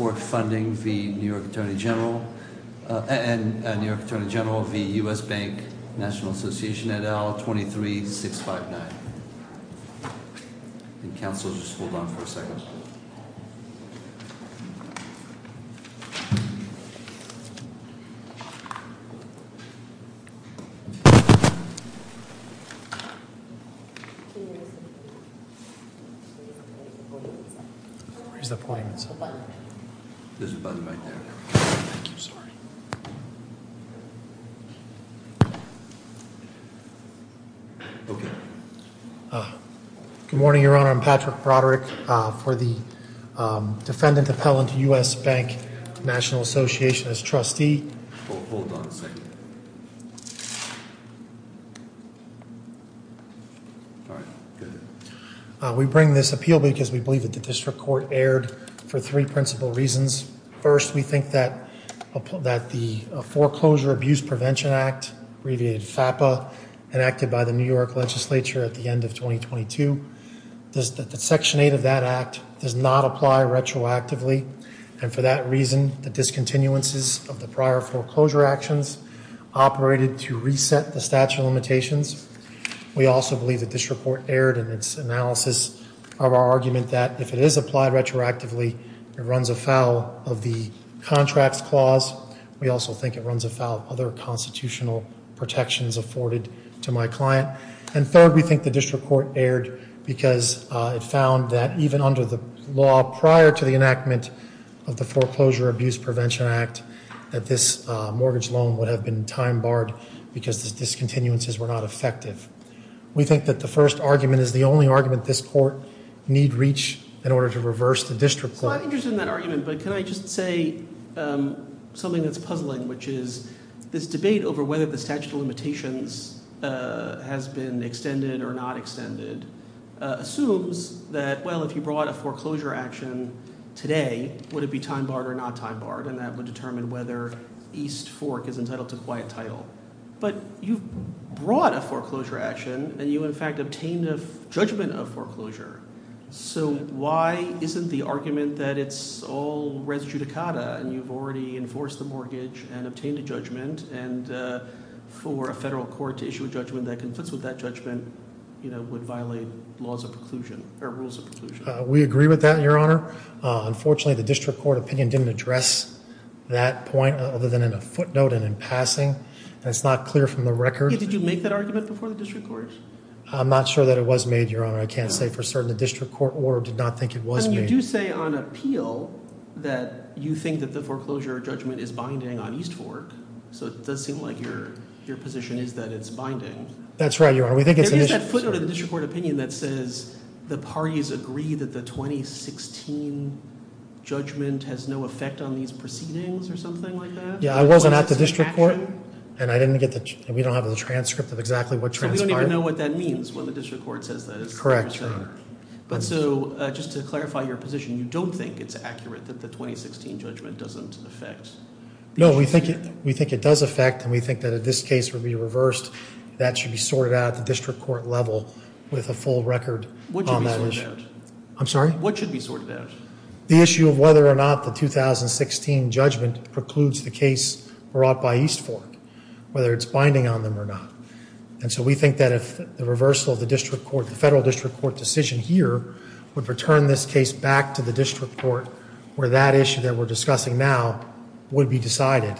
et al., 23659. Good morning, Your Honor. I'm Patrick Broderick for the Defendant Appellant, U.S. Bank, National Association, as trustee. Hold on a second. We bring this appeal because we believe that the district court erred for three principal reasons. First, we think that the Foreclosure Abuse Prevention Act, abbreviated FAPA, enacted by the New York legislature at the end of 2022, Section 8 of that Act does not apply retroactively. And for that reason, the discontinuances of the prior foreclosure actions operated to reset the statute of limitations. We also believe that this report erred in its analysis of our argument that if it is applied retroactively, it runs afoul of the contract clause. We also think it runs afoul of other constitutional protections afforded to my client. And third, we think the district court erred because it found that even under the law prior to the enactment of the Foreclosure Abuse Prevention Act, that this mortgage loan would have been time barred because the discontinuances were not effective. We think that the first argument is the only argument this court need reach in order to reverse the district court. So I understand that argument, but can I just say something that's puzzling, which is this debate over whether the statute of limitations has been extended or not extended assumes that, well, if you brought a foreclosure action today, would it be time barred or not time barred? And that would determine whether East Fork is entitled to quiet title. But you brought a foreclosure action, and you, in fact, obtained a judgment of foreclosure. So why isn't the argument that it's all res judicata, and you've already enforced a mortgage and obtained a judgment, and for a federal court to issue a judgment that conflicts with that judgment would violate laws of preclusion or rules of preclusion? We agree with that, Your Honor. Unfortunately, the district court opinion didn't address that point other than in a footnote and in passing. That's not clear from the record. Did you make that argument before the district court? I'm not sure that it was made, Your Honor. I can't say for certain the district court order did not think it was made. And you do say on appeal that you think that the foreclosure judgment is binding on East Fork. So it does seem like your position is that it's binding. That's right, Your Honor. We did get the district court opinion that says the parties agree that the 2016 judgment has no effect on these proceedings or something like that. Yeah, I wasn't at the district court, and we don't have a transcript of exactly what transcript. You don't even know what that means when the district court says that. Correct, Your Honor. So just to clarify your position, you don't think it's accurate that the 2016 judgment doesn't affect? No, we think it does affect, and we think that if this case would be reversed, that should be sorted out at the district court level with a full record on that issue. What should be sorted out? I'm sorry? What should be sorted out? The issue of whether or not the 2016 judgment precludes the case brought by East Fork, whether it's binding on them or not. And so we think that if the reversal of the federal district court decision here would return this case back to the district court where that issue that we're discussing now would be decided.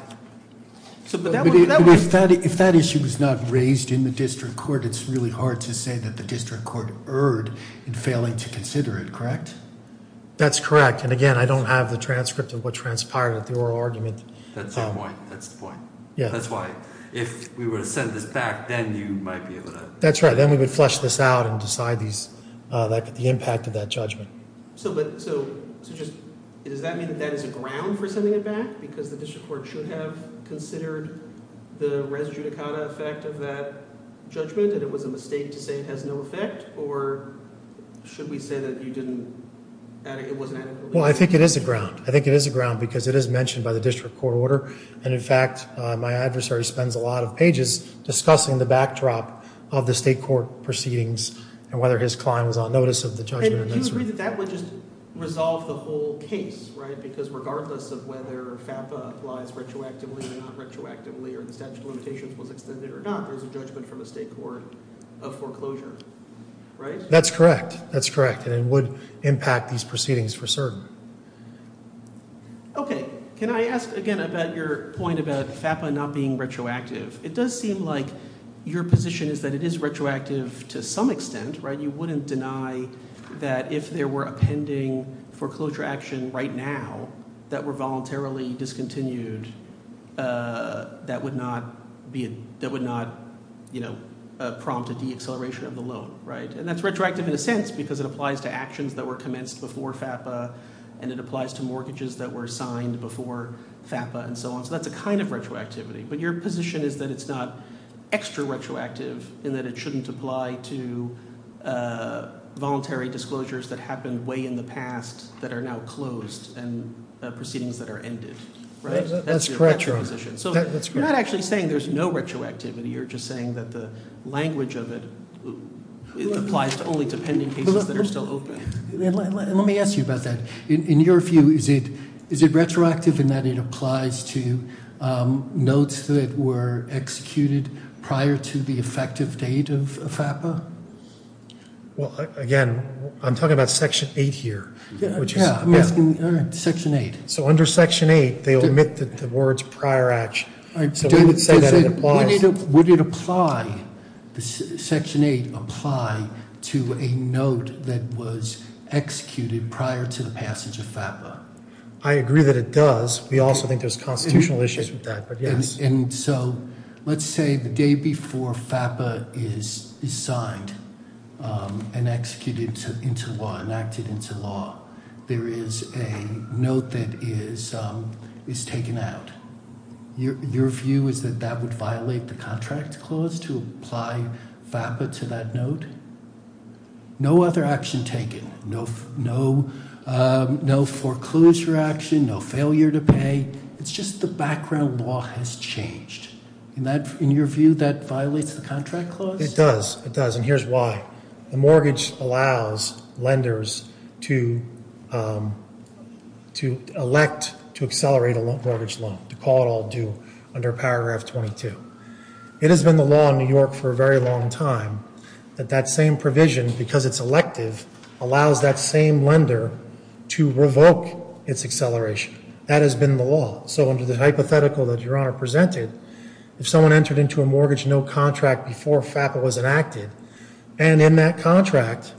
If that issue was not raised in the district court, it's really hard to say that the district court erred in failing to consider it, correct? That's correct. And again, I don't have the transcript of what transpired with the oral argument. That's the point. That's the point. That's right. Then we would flush this out and decide the impact of that judgment. Well, I think it is a ground. I think it is a ground because it is mentioned by the district court order. And in fact, my adversary spends a lot of pages discussing the backdrop of the state court proceedings and whether his client was on notice of the judgment. That's correct. That's correct. And it would impact these proceedings for certain. Okay. Can I ask again about your point about FAPA not being retroactive? It does seem like your position is that it is retroactive to some extent, right? You wouldn't deny that if there were a pending foreclosure action right now that were voluntarily discontinued, that would not prompt a deacceleration of the loan, right? And that's retroactive in a sense because it applies to actions that were commenced before FAPA and it applies to mortgages that were signed before FAPA and so on. So that's a kind of retroactivity. But your position is that it's not extra retroactive in that it shouldn't apply to voluntary disclosures that happened way in the past that are now closed and proceedings that are ended, right? That's correct. So you're not actually saying there's no retroactivity. You're just saying that the language of it applies only to pending cases that are still open. Let me ask you about that. In your view, is it retroactive in that it applies to notes that were executed prior to the effective date of FAPA? Well, again, I'm talking about Section 8 here. Yeah. Section 8. So under Section 8, they omit the words prior action. Would it apply, Section 8, apply to a note that was executed prior to the passage of FAPA? I agree that it does. We also think there's constitutional issues with that, but yes. Let's say the day before FAPA is signed and executed into law, enacted into law, there is a note that is taken out. Your view is that that would violate the contract clause to apply FAPA to that note? No other action taken. No foreclosure action. No failure to pay. It's just the background law has changed. In your view, that violates the contract clause? It does. It does, and here's why. A mortgage allows lenders to elect to accelerate a mortgage loan, to call it all due under Paragraph 22. It has been the law in New York for a very long time that that same provision, because it's elective, allows that same lender to revoke its acceleration. That has been the law. So under the hypothetical that Your Honor presented, if someone entered into a mortgage note contract before FAPA was enacted, and in that contract,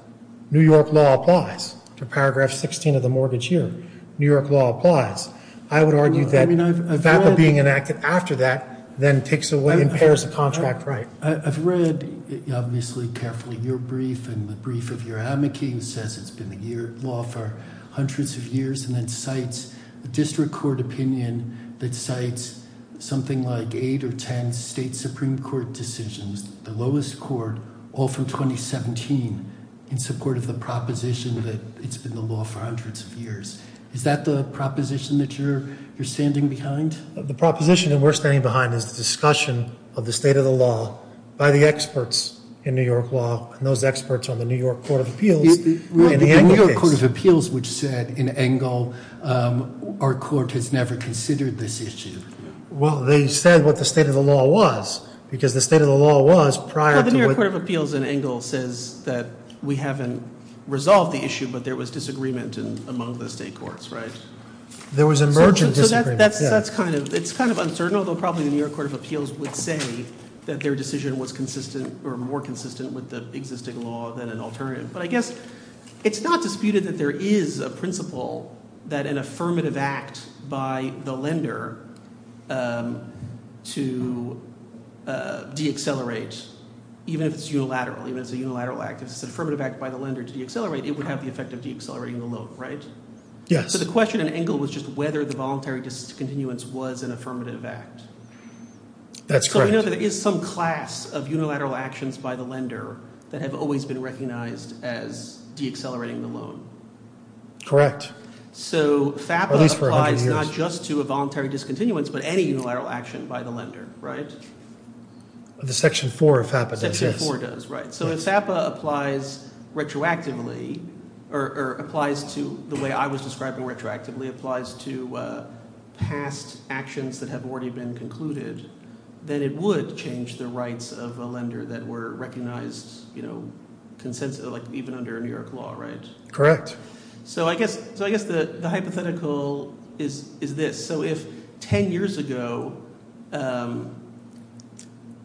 New York law applies to Paragraph 16 of the mortgage unit. New York law applies. I would argue that FAPA being enacted after that then takes away and impairs the contract right. I've read, obviously, carefully, your brief and the brief of Your Honor. McCain says it's been the law for hundreds of years and then cites a district court opinion that cites something like eight or ten state Supreme Court decisions, the lowest court, all from 2017, in support of the proposition that it's been the law for hundreds of years. Is that the proposition that you're standing behind? The proposition that we're standing behind is the discussion of the state of the law by the experts in New York law, those experts on the New York Court of Appeals. The New York Court of Appeals, which said in Engel, our court has never considered this issue. Well, they said what the state of the law was, because the state of the law was prior to it. Well, the New York Court of Appeals in Engel says that we haven't resolved the issue, but there was disagreement among the state courts, right? There was emergent disagreement. So that's kind of uncertain, although probably the New York Court of Appeals would say that their decision was more consistent with the existing law than an alternative. But I guess it's not disputed that there is a principle that an affirmative act by the lender to deaccelerate, even if it's unilateral, even if it's a unilateral act, if it's an affirmative act by the lender to deaccelerate, it would have the effect of deaccelerating the loan, right? Yes. So the question in Engel was just whether the voluntary discontinuance was an affirmative act. That's correct. So we know there is some class of unilateral actions by the lender that have always been recognized as deaccelerating the loan. Correct. So FAPA applies not just to a voluntary discontinuance, but any unilateral action by the lender, right? The Section 4 of FAPA does, yes. Section 4 does, right. So if FAPA applies retroactively, or applies to the way I was describing retroactively, applies to past actions that have already been concluded, then it would change the rights of a lender that were recognized, you know, even under New York law, right? Correct. So I guess the hypothetical is this. So if 10 years ago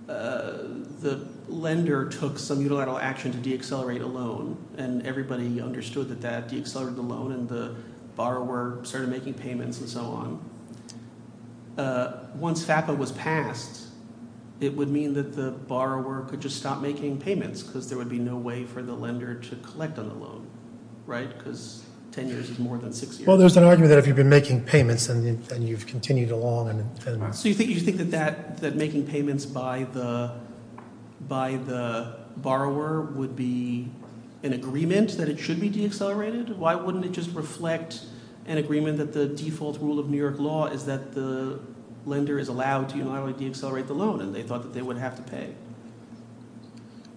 the lender took some unilateral action to deaccelerate a loan, and everybody understood that that deaccelerated the loan, and the borrower started making payments and so on, once FAPA was passed, it would mean that the borrower could just stop making payments because there would be no way for the lender to collect on the loan, right? Because 10 years is more than 6 years. Well, there's an argument that if you've been making payments and you've continued along and... So you think that making payments by the borrower would be an agreement that it should be deaccelerated? Why wouldn't it just reflect an agreement that the default rule of New York law is that the lender is allowed to unilaterally deaccelerate the loan, and they thought that they would have to pay?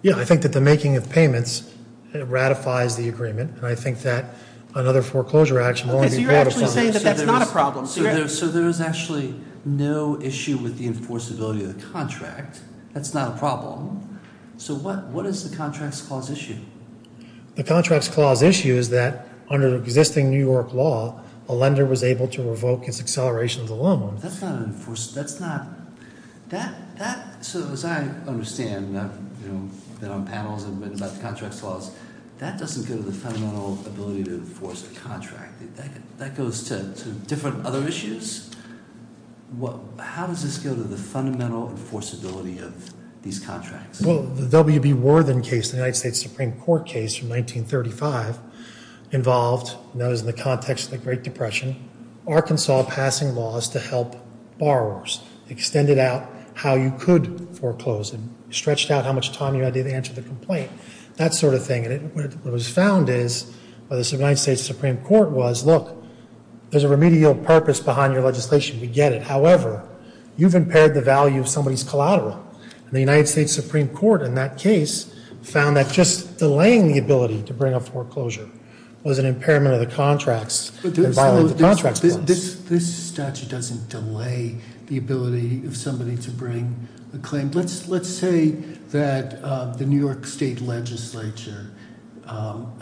Yeah, I think that the making of payments ratifies the agreement, and I think that another foreclosure action won't be... Okay, so you're actually saying that that's not a problem. So there's actually no issue with the enforceability of the contract. That's not a problem. So what is the Contracts Clause issue? The Contracts Clause issue is that under existing New York law, a lender was able to revoke its acceleration of the loan. That's not... So as I understand, and I've been on panels and written about the Contracts Clause, that doesn't go to the fundamental ability to enforce the contract. That goes to different other issues? How does this go to the fundamental enforceability of these contracts? Well, the W.B. Worthing case, the United States Supreme Court case in 1935, involved, known as the context of the Great Depression, Arkansas passing laws to help borrowers. Extended out how you could foreclose, and stretched out how much time you had to answer the complaint. That sort of thing. And what was found is, what the United States Supreme Court was, look, there's a remedial purpose behind your legislation. You get it. However, you've impaired the value of somebody's collateral. The United States Supreme Court, in that case, found that just delaying the ability to bring a foreclosure was an impairment of the contracts. This statute doesn't delay the ability of somebody to bring a claim. Let's say that the New York State Legislature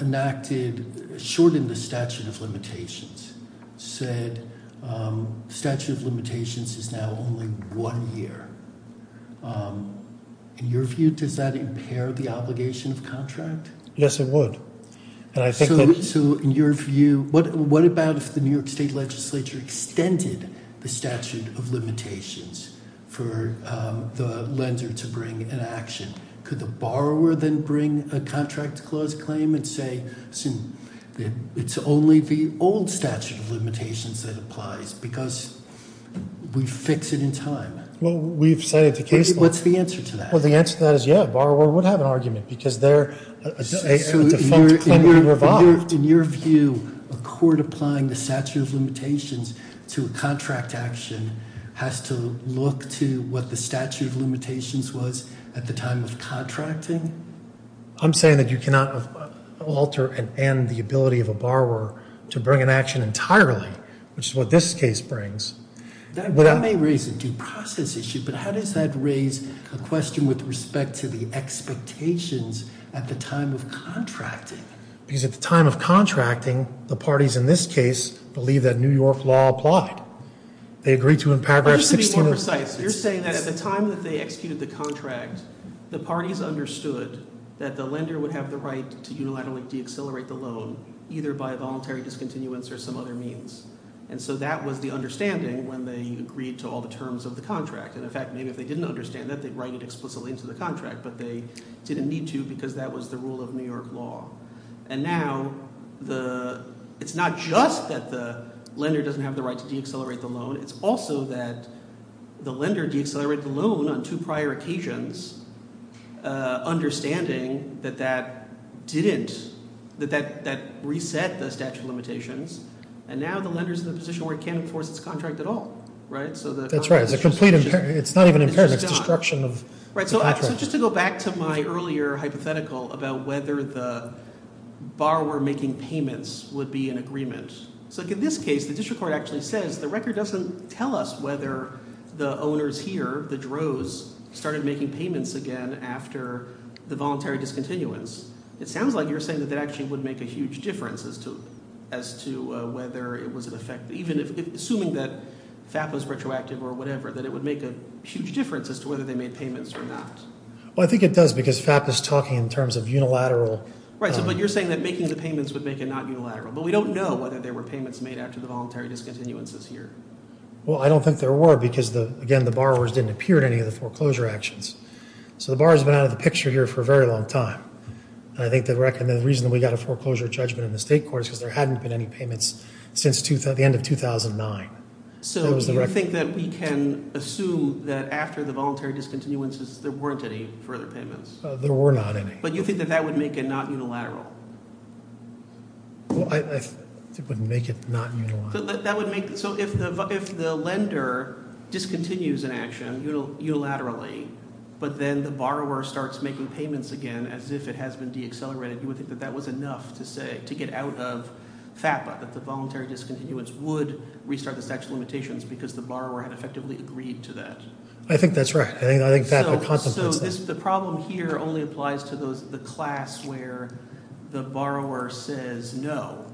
enacted, shortened the statute of limitations, said statute of limitations is now only one year. In your view, does that impair the obligation of contract? Yes, it would. So, in your view, what about if the New York State Legislature extended the statute of limitations for the lender to bring an action? Could the borrower then bring a contract clause claim and say, it's only the old statute of limitations that applies, because we fix it in time? What's the answer to that? Well, the answer to that is, yeah, borrower would have an argument, because they're... In your view, a court applying the statute of limitations to a contract action has to look to what the statute of limitations was at the time of contracting? I'm saying that you cannot alter and end the ability of a borrower to bring an action entirely, which is what this case brings. That may raise a due process issue, but how does that raise a question with respect to the expectations at the time of contracting? Because at the time of contracting, the parties in this case believe that New York law applied. They agreed to in paragraph 16 of... I'm just going to be more precise. You're saying that at the time that they executed the contract, the parties understood that the lender would have the right to unilaterally deaccelerate the loan, either by voluntary discontinuance or some other means. And so that was the understanding when they agreed to all the terms of the contract. In fact, maybe if they didn't understand that, they'd write it explicitly into the contract, but they didn't need to because that was the rule of New York law. And now it's not just that the lender doesn't have the right to deaccelerate the loan, it's also that the lender deaccelerated the loan on two prior occasions, understanding that that didn't... that that reset the statute of limitations, and now the lender's in a position where it can't enforce its contract at all. Right? So the... That's right. It's not even imperative. It's a construction of... Right. So just to go back to my earlier hypothetical about whether the borrower making payments would be in agreement. So in this case, the district court actually says the record doesn't tell us whether the owners here, the droves, started making payments again after the voluntary discontinuance. It sounds like you're saying that that actually would make a huge difference as to... as to whether it would affect... even assuming that FAPA's retroactive or whatever, that it would make a huge difference as to whether they made payments or not. Well, I think it does because FAPA's talking in terms of unilateral... Right, but you're saying that making the payments would make it not unilateral. But we don't know whether there were payments made after the voluntary discontinuances here. Well, I don't think there were because, again, the borrowers didn't appear at any of the foreclosure actions. So the borrowers have been out of the picture here for a very long time. I think the reason we got a foreclosure judgment in the state courts is there hadn't been any payments since the end of 2009. So do you think that we can assume that after the voluntary discontinuances there weren't any further payments? There were not any. But you think that that would make it not unilateral? Well, I think it would make it not unilateral. But that would make... So if the lender discontinues an action unilaterally, but then the borrower starts making payments again as if it has been deaccelerated, you would think that that was enough to get out of FAPRA, that the voluntary discontinuance would restart the statute of limitations because the borrower had effectively agreed to that. I think that's right. I think FAPRA contemplates that. So the problem here only applies to the class where the borrower says, no,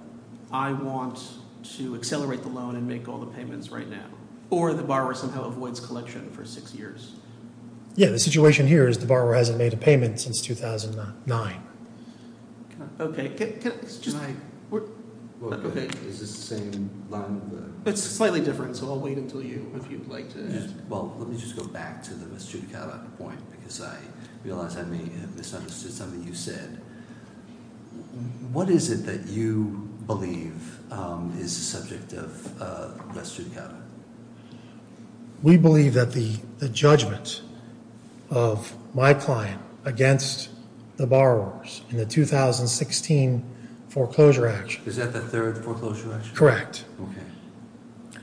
I want to accelerate the loan and make all the payments right now. Or the borrower somehow avoids collection for six years. Yeah, the situation here is the borrower hasn't made a payment since 2009. Okay. Can I... Is this the same line of work? It's slightly different, so I'll wait until you... Well, let me just go back to the Mr. Gallagher point because I realize I may have misunderstood something you said. What is it that you believe is the subject of Mr. Gallagher? We believe that the judgments of my client against the borrowers in the 2016 foreclosure action... Is that the third foreclosure action? Correct. Okay.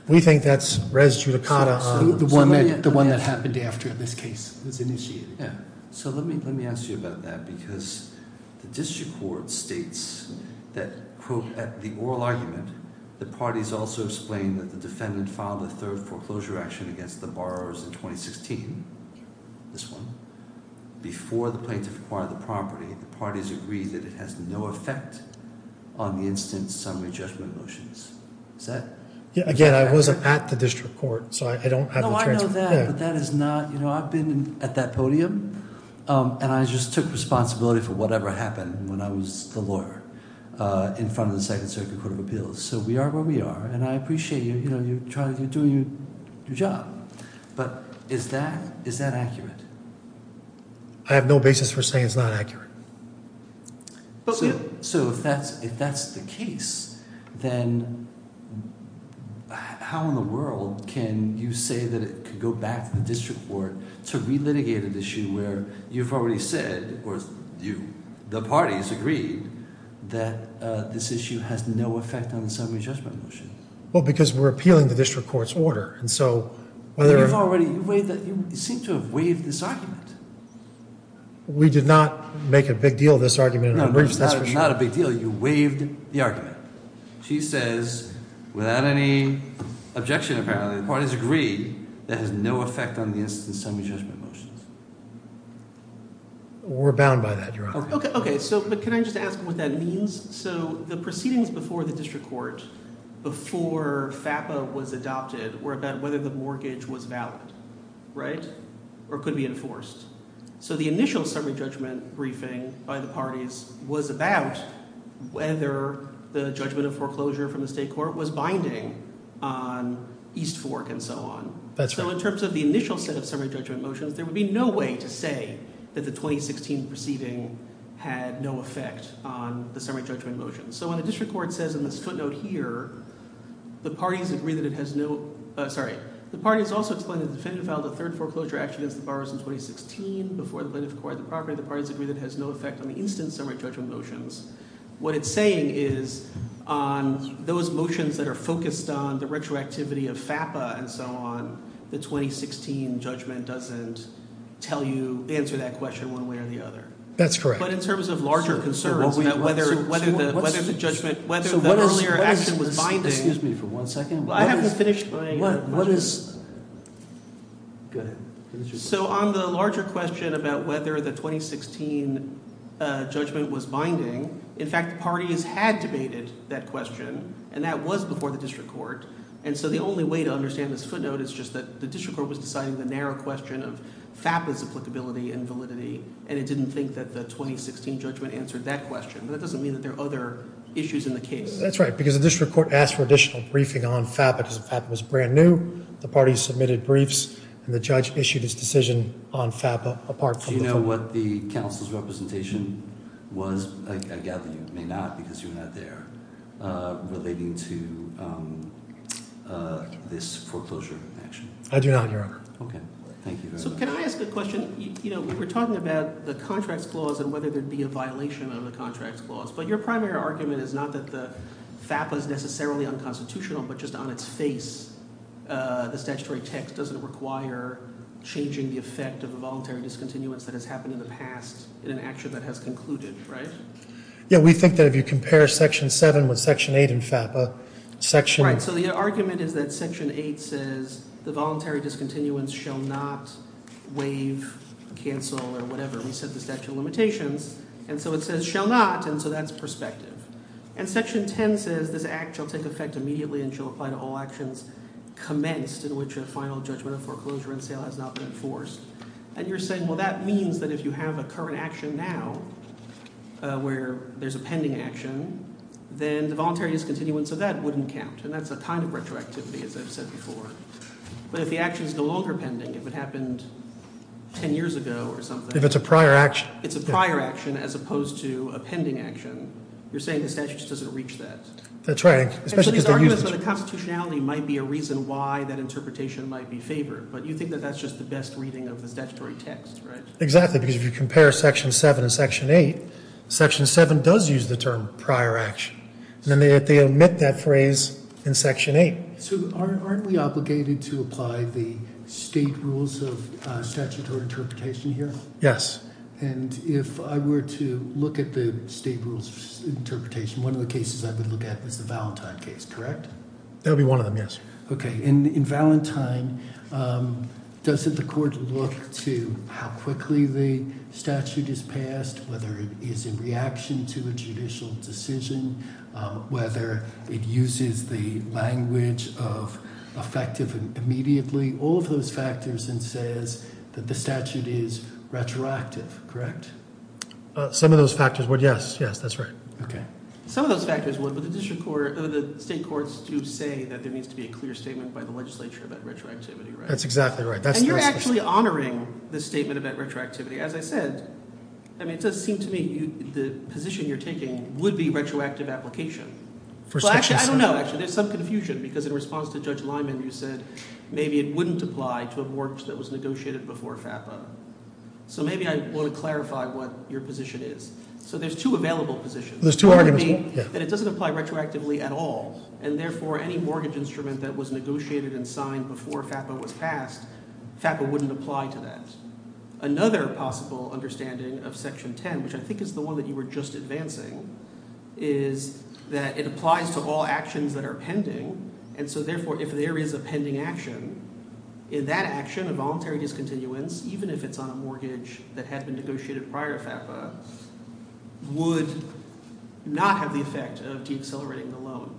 We think that's res judicata on... The one that happened after this case was initiated. Yeah. So let me ask you about that at the oral argument, the parties also explain that the defendant filed a third foreclosure action against the borrowers in 2016. This one. Before the plaintiff acquired the property, the parties agreed that it has no effect on the instant summary judgment motions. Is that... Again, I wasn't at the district court, so I don't have the transcript there. No, I know that, but that is not... You know, I've been at that podium and I just took responsibility for whatever happened when I was the lawyer in front of the Second Circuit Court of Appeals. So we are where we are, and I appreciate you trying to do your job, but is that accurate? I have no basis for saying it's not accurate. So if that's the case, then how in the world can you say that to go back to the district court to relitigate an issue where you've already said or the parties agreed that this issue has no effect on the instant summary judgment motion? Well, because we're appealing the district court's order, and so... But you've already... You seem to have waived this argument. We did not make a big deal of this argument. No, not a big deal. You waived the argument. She says, without any objection apparently, the parties agree that it has no effect on the instant summary judgment motion. We're bound by that, Your Honor. Okay, so can I just ask what that means? So the proceedings before the district court, before FAPA was adopted, were about whether the mortgage was valid, right, or could be enforced. So the initial summary judgment briefing by the parties was about whether the judgment of foreclosure from the state court was binding on East Fork and so on. That's right. So in terms of the initial set of summary judgment motions, there would be no way to say that the 2016 proceeding had no effect on the summary judgment motion. So what the district court says in this footnote here, the parties agree that it has no... Sorry. The parties also explain that the decision about the third foreclosure action of the borrowers in 2016 before the legislative court had the property, the parties agree that it has no effect on the instant summary judgment motions. What it's saying is, those motions that are focused on the retroactivity of FAPA and so on, the 2016 judgment doesn't tell you, answer that question one way or the other. That's correct. But in terms of larger concerns, whether the judgment, whether the earlier action was binding... Excuse me for one second. I haven't finished my... Go ahead. So on the larger question about whether the 2016 judgment was binding, in fact, the parties had debated that question and that was before the district court and so the only way to understand this footnote is just that the district court was deciding the narrow question of FAPA's applicability and validity and it didn't think that the 2016 judgment answered that question. That doesn't mean that there are other issues in the case. That's right because the district court asked for additional briefing on FAPA because FAPA was brand new, the parties submitted briefs and the judge issued his decision on FAPA apart from... Do you know what the council's representation was? I gather you may not because you're not there, relating to this foreclosure action. I do not, Your Honor. Okay, thank you very much. Can I ask a question? We're talking about the contracts clause and whether there'd be a violation on the contracts clause but your primary argument is not that FAPA is necessarily unconstitutional but just on its face, the statutory text doesn't require changing the effect of a voluntary discontinuance that has happened in the past in an action that has concluded, right? Yeah, we think that if you compare section 7 with section 8 in FAPA, section... Right, so the argument is that section 8 says the voluntary discontinuance shall not waive, cancel, or whatever. We said the statute of limitations and so it says shall not and so that's perspective. And section 10 says this act shall take effect immediately and shall apply to all actions commenced in which a final judgment of foreclosure and sale has not been enforced. And you're saying, well, that means that if you have a current action now where there's a pending action, then the voluntary discontinuance of that wouldn't count and that's a time of retroactivity, as I've said before. But if the action is no longer pending, it would happen 10 years ago or something. If it's a prior action. If it's a prior action as opposed to a pending action, you're saying the statute doesn't reach that. That's right. So the constitutionality might be a reason why that interpretation might be favored, but you think that that's just the best reading of the statutory text, right? Exactly, because if you compare section 7 and section 8, section 7 does use the term prior action and yet they omit that phrase in section 8. So aren't we obligated to apply the state rules of statutory interpretation here? Yes. And if I were to look at the state rules of interpretation, one of the cases I would look at is the Valentine case, correct? That would be one of them, yes. Okay. In Valentine, does the court look to how quickly the statute is passed, whether it is in reaction to a judicial decision, whether it uses the language of effective immediately, all of those factors, and says that the statute is retroactive, correct? Some of those factors would, yes. Yes, that's right. Okay. Some of those factors would, but the state courts do say that there needs to be a clear statement by the legislature about retroactivity, right? That's exactly right. And you're actually honoring the statement about retroactivity. As I said, it does seem to me the position you're taking would be retroactive application. So actually, I don't know. There's some confusion because in response to Judge Lyman, you said maybe it wouldn't apply to a mortgage that was negotiated before FAPA. So maybe I want to clarify what your position is. So there's two available positions. There's two available, yes. And it doesn't apply retroactively at all. And therefore, any mortgage instrument that was negotiated and signed before FAPA was passed, FAPA wouldn't apply to that. Another possible understanding of Section 10, which I think is the one that you were just advancing, is that it applies to all actions that are pending. And so therefore, if there is a pending action, in that action, a voluntary discontinuance, even if it's on a mortgage that had been negotiated prior to FAPA, would not have the effect of decelerating the loan.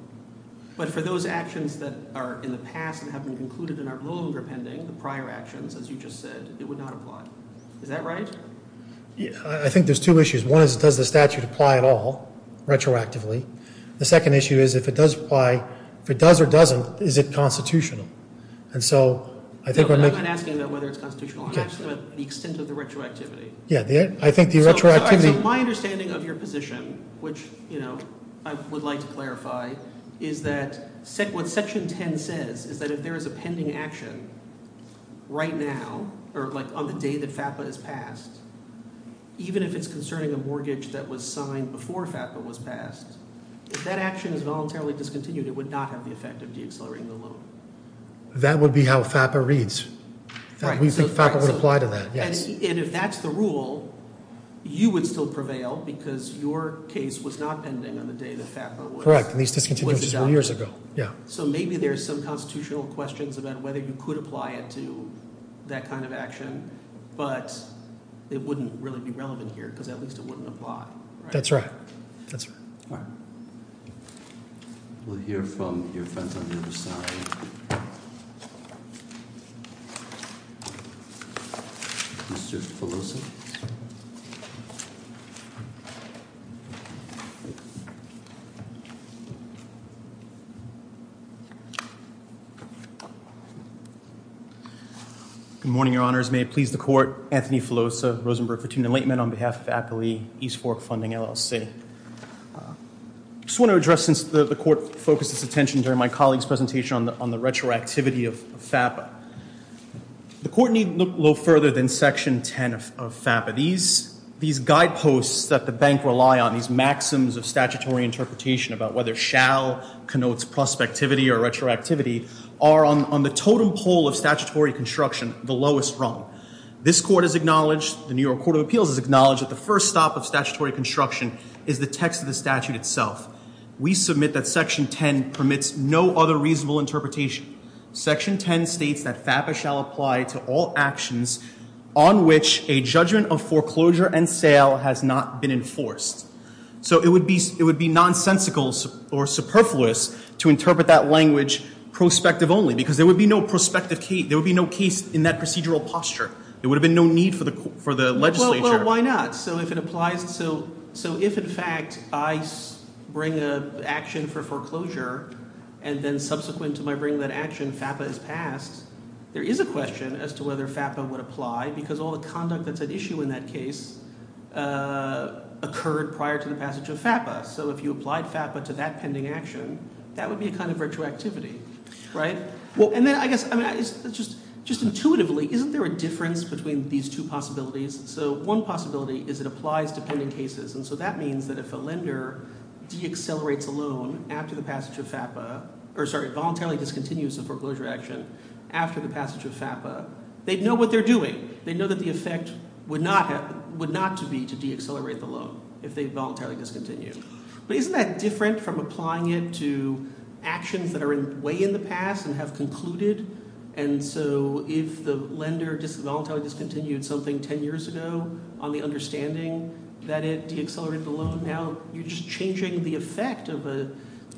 But for those actions that are in the past and haven't been included in our loan or pending, the prior actions, as you just said, it would not apply. Is that right? I think there's two issues. One is, does the statute apply at all retroactively? The second issue is, if it does apply, if it does or doesn't, is it constitutional? And so I think I'm not... I'm asking whether it's constitutional or not, but the extent of the retroactivity. Yeah, I think the retroactivity... So my understanding of your position, which I would like to clarify, is that what Section 10 says is that if there is a pending action right now, or like on the day that FAPA is passed, even if it's concerning a mortgage that was signed before FAPA was passed, if that action is voluntarily discontinued, it would not have the effect of decelerating the loan. That would be how FAPA reads. FAPA would apply to that, yeah. And if that's the rule, you would still prevail because your case was not pending on the day that FAPA was... Correct, at least a few years ago, yeah. So maybe there's some constitutional questions about whether you could apply it to that kind of action, but it wouldn't really be relevant here because at least it wouldn't apply. That's right, that's right. All right. We'll hear from your friends on the other side. Mr. Felicien. Good morning, Your Honors. May it please the Court, Anthony Filosa, Rosenberg, Petunia Laitman on behalf of APERI, East Fork Funding, LLC. I just want to address, since the Court focused its attention during my colleague's presentation on the retroactivity of FAPA, the Court need look a little further than Section 10 of FAPA. These guideposts that the bank rely on, these maxims of statutory interpretation about whether shall connotes prospectivity or retroactivity are on the totem pole of statutory construction, the lowest rung. This Court has acknowledged, the New York Court of Appeals has acknowledged that the first stop of statutory construction is the text of the statute itself. We submit that Section 10 permits no other reasonable interpretation. Section 10 states that FAPA shall apply to all actions on which a judgment of foreclosure and sale has not been enforced. So it would be nonsensical or superfluous to interpret that language prospective only, because there would be no prospective case, there would be no case in that procedural posture. There would have been no need for the legislature. Well, why not? So if it applies to, so if in fact I bring an action for foreclosure and then subsequent to my bringing that action FAPA is passed, there is a question as to whether FAPA would apply because all the conduct that's at issue in that case occurred prior to the passage of FAPA. So if you apply FAPA to that pending action, that would be a kind of retroactivity, right? Well, and then I guess, just intuitively, isn't there a difference between these two possibilities? So one possibility is it applies to pending cases, and so that means that if a lender deaccelerates a loan after the passage of FAPA, or sorry, voluntarily discontinues the foreclosure action after the passage of FAPA, they'd know what they're doing. They'd know that the effect would not have, would not to be to deaccelerate the loan if they voluntarily discontinued. But isn't that different from applying it to actions that are way in the past and have concluded? And so if the lender voluntarily discontinued something 10 years ago on the understanding that it deaccelerated the loan, now you're just changing the effect of a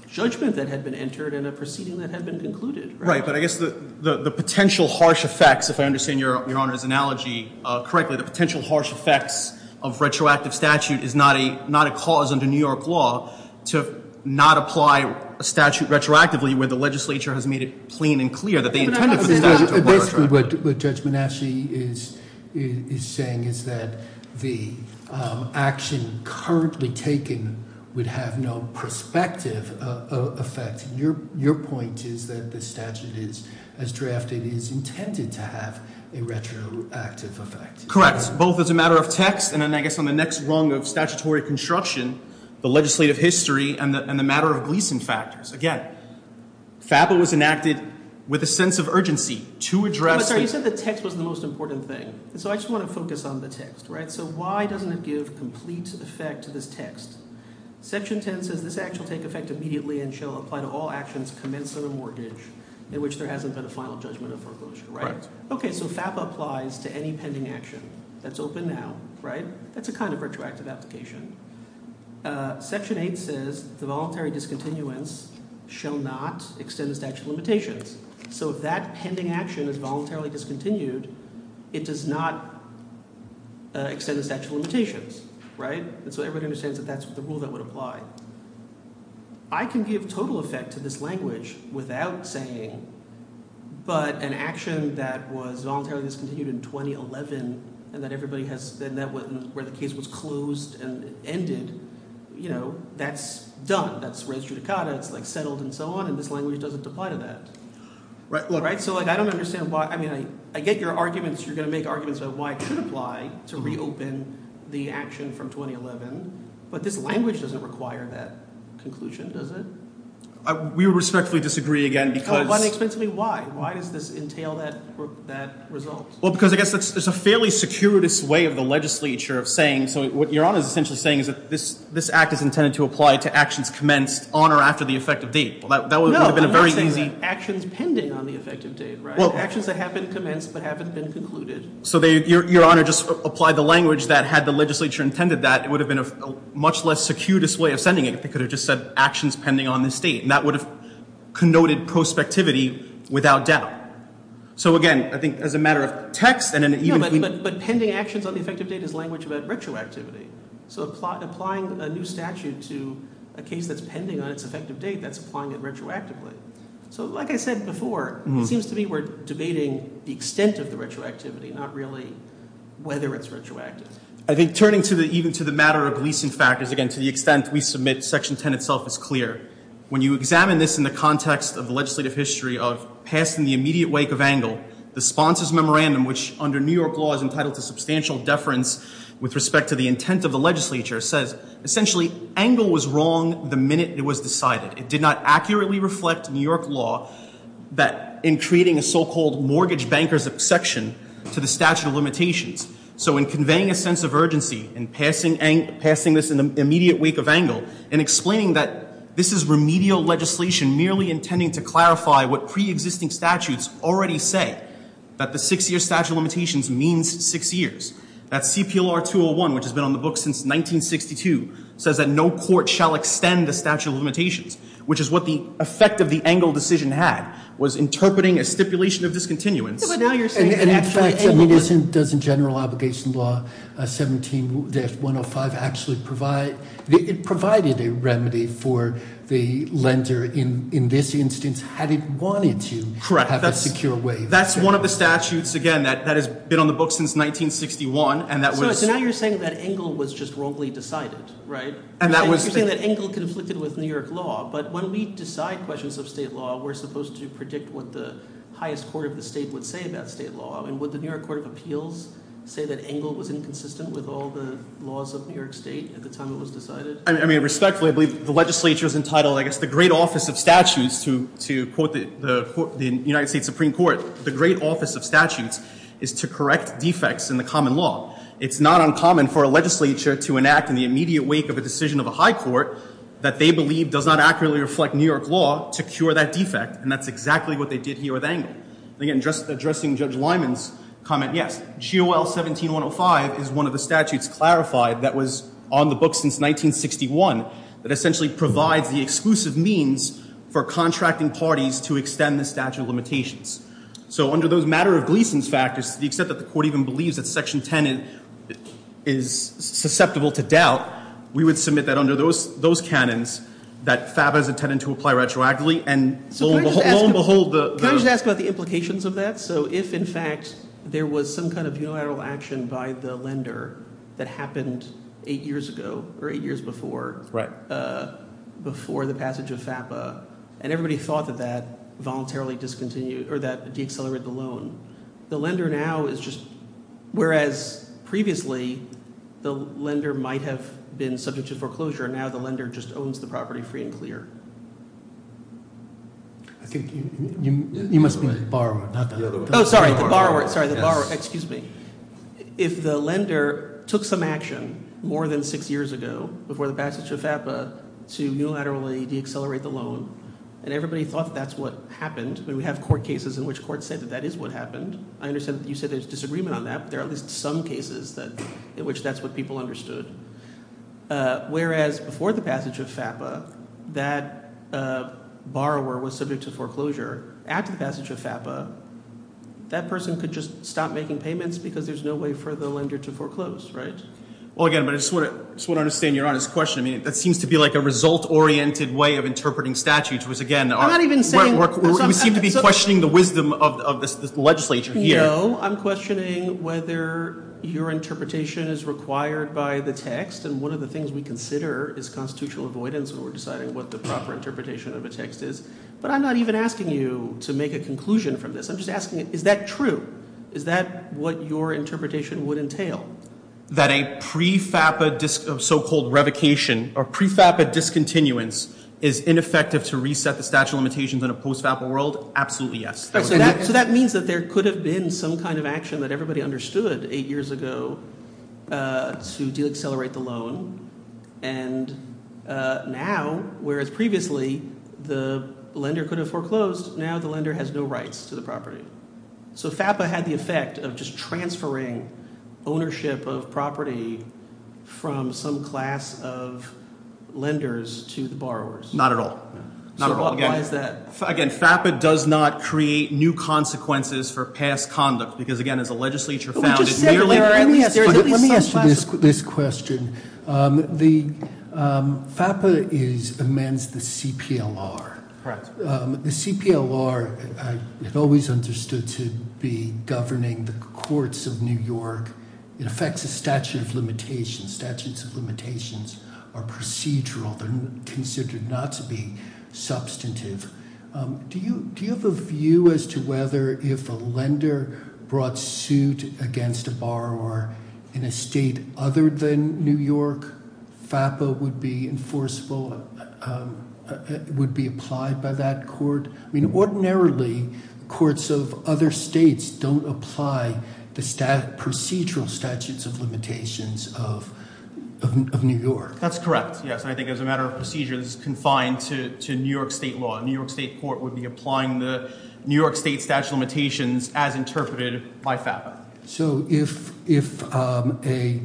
judgment that had been entered and a proceeding that had been concluded. Right, but I guess the potential harsh effects, if I understand Your Honor's analogy correctly, the potential harsh effects of retroactive statute is not a cause under New York law to not apply a statute retroactively where the legislature has made it plain and clear that they intended for the statute to be retroactive. What Judge Bonacci is saying is that the action currently taken would have no prospective effect. Your point is that the statute is, as drafted, is intended to have a retroactive effect. Correct, both as a matter of text and I guess on the next rung of statutory construction, the legislative history, and the matter of leasing factors. Again, FAFSA was enacted with a sense of urgency to address the... I'm sorry, you said the text was the most important thing. So I just want to focus on the text, right? So why doesn't it give complete effect to this text? Section 10 says, this act shall take effect immediately and shall apply to all actions commencing a mortgage in which there hasn't been a final judgment of the approach. Right. Okay, so FAFSA applies to any pending action. That's open now, right? That's a kind of retroactive application. Section 8 says, the voluntary discontinuance shall not extend the statute of limitations. So if that pending action is voluntarily discontinued, it does not extend the statute of limitations, right? So everybody understands that that's the rule that would apply. I can give total effect to this language without saying, but an action that was voluntarily discontinued in 2011 and that everybody has said that where the case was closed and ended, that's done, that's res judicata, that's settled and so on, and this language doesn't apply to that. So I don't understand why... I get your arguments, you're going to make arguments of why it should apply to reopen the action from 2011, but this language doesn't require that conclusion, does it? We respectfully disagree again because... But explain to me why. Why does this entail that result? Well, because I guess there's a fairly securitous way of the legislature saying, what Your Honor is essentially saying is that this act is intended to apply to actions commenced on or after the effective date. No, I'm not saying that action depending on the effective date, right? Well, actions that have been commenced but haven't been concluded. So Your Honor just applied the language that had the legislature intended that, it would have been a much less securitous way of sending it if it could have just said actions pending on this date, and that would have connoted prospectivity without doubt. So again, I think as a matter of text... But pending actions on the effective date is a language about retroactivity. So applying a new statute to a case that's pending on its effective date, that's applying it retroactively. So like I said before, it seems to me we're debating the extent of the retroactivity, not really whether it's retroactive. I think turning even to the matter of lease in fact, is again to the extent we submit section 10 itself is clear. When you examine this in the context of the legislative history of passing the immediate wake of Engle, the sponsor's memorandum, which under New York law is entitled to substantial deference with respect to the intent of the legislature, says essentially Engle was wrong the minute it was decided. It did not accurately reflect New York law in creating a so-called mortgage banker's exception to the statute of limitations. So in conveying a sense of urgency and passing this in the immediate wake of Engle and explaining that this is remedial legislation and merely intending to clarify what pre-existing statutes already say, that the six-year statute of limitations means six years, that CPLR 201, which has been on the books since 1962, says that no court shall extend the statute of limitations, which is what the effect of the Engle decision had, was interpreting a stipulation of discontinuity. But now you're saying it actually... In fact, I mean, doesn't general obligation law 17-105 actually provide... In this instance, had it wanted to have a secure waiver? Correct. That's one of the statutes, again, that has been on the books since 1961, and that was... So now you're saying that Engle was just wrongly decided, right? And that was... You're saying that Engle conflicted with New York law, but when we decide questions of state law, we're supposed to predict what the highest court of the state would say about state law. And would the New York Court of Appeals say that Engle was inconsistent with all the laws of New York state at the time it was decided? I mean, respectfully, I believe the legislature was entitled, I guess the great office of statutes, to quote the United States Supreme Court, the great office of statutes is to correct defects in the common law. It's not uncommon for a legislature to enact in the immediate wake of a decision of a high court that they believe does not accurately reflect New York law to cure that defect, and that's exactly what they did here with Engle. Again, just addressing Judge Lyman's comment, yes, GOL 17-105 is one of the statutes clarified that was on the books since 1961 that essentially provides the exclusive means for contracting parties to extend the statute of limitations. So under those matter-of-pleasance factors, except that the court even believes that Section 10 is susceptible to doubt, we would submit that under those canons that FABA is intended to apply retroactively, and lo and behold, the... Can I just ask about the implications of that? So if, in fact, there was some kind of unilateral action by the lender that happened eight years ago, or eight years before... Right. ...before the passage of FABA, and everybody thought that that voluntarily discontinued or that decelerated the loan, the lender now is just... Whereas previously, the lender might have been subject to foreclosure, now the lender just owns the property free and clear. I think you must mean the borrower, not the lender. Oh, sorry, the borrower. Sorry, the borrower. Excuse me. If the lender took some action more than six years ago before the passage of FABA to unilaterally decelerate the loan, and everybody thought that's what happened, and we have court cases in which courts say that that is what happened, I understand that you said there's disagreement on that, but there are at least some cases in which that's what people understood. Whereas before the passage of FABA, that borrower was subject to foreclosure, after the passage of FABA, that person could just stop making payments because there's no way for the lender to foreclose, right? Well, again, but I just want to understand your honest question. I mean, that seems to be like a result-oriented way of interpreting statutes, which, again, we seem to be questioning the wisdom of this legislature here. No, I'm questioning whether your interpretation is required by the text, and one of the things we consider is constitutional avoidance when we're deciding what the proper interpretation of a text is. But I'm not even asking you to make a conclusion from this. I'm just asking, is that true? Is that what your interpretation would entail? That a pre-FABA so-called revocation or pre-FABA discontinuance is ineffective to reset the statute of limitations in a post-FABA world? Absolutely yes. So that means that there could have been some kind of action that everybody understood eight years ago to deaccelerate the loan, and now, whereas previously, the lender could have foreclosed, now the lender has no rights to the property. So FABA had the effect of just transferring ownership of property from some class of lenders to the borrowers. Not at all, not at all. Again, FABA does not create new consequences for past conduct, because again, as a legislature founded nearly... Let me answer this question. The FABA amends the CPLR. The CPLR is always understood to be governing the courts of New York. It affects the statute of limitations. Statutes of limitations are procedural. They're considered not to be substantive. Do you have a view as to whether if a lender brought suit against a borrower in a state other than New York, FABA would be enforceable, would be applied by that court? Ordinarily, courts of other states don't apply the procedural statutes of limitations of New York. That's correct, yes. I think as a matter of procedure, this is confined to New York state law. A New York state court would be applying the New York state statute of limitations as interpreted by FABA. So if a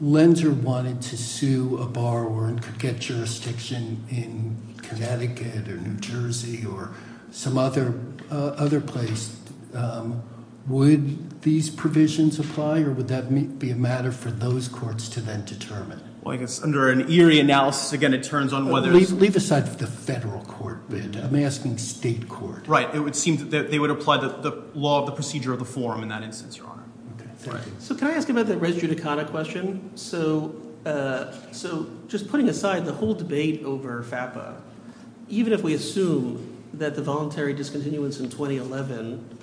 lender wanted to sue a borrower and could get jurisdiction in Connecticut or New Jersey or some other place, would these provisions apply or would that be a matter for those courts to then determine? Well, I guess under an eerie analysis, again, it turns on whether... Leave aside the federal court, I'm asking the state court. Right, it would seem that they would apply the law of the procedure of the form in that instance, Your Honor. So can I ask you about that res judicata question? So just putting aside the whole debate over FABA, even if we assume that the voluntary discontinuance in 2011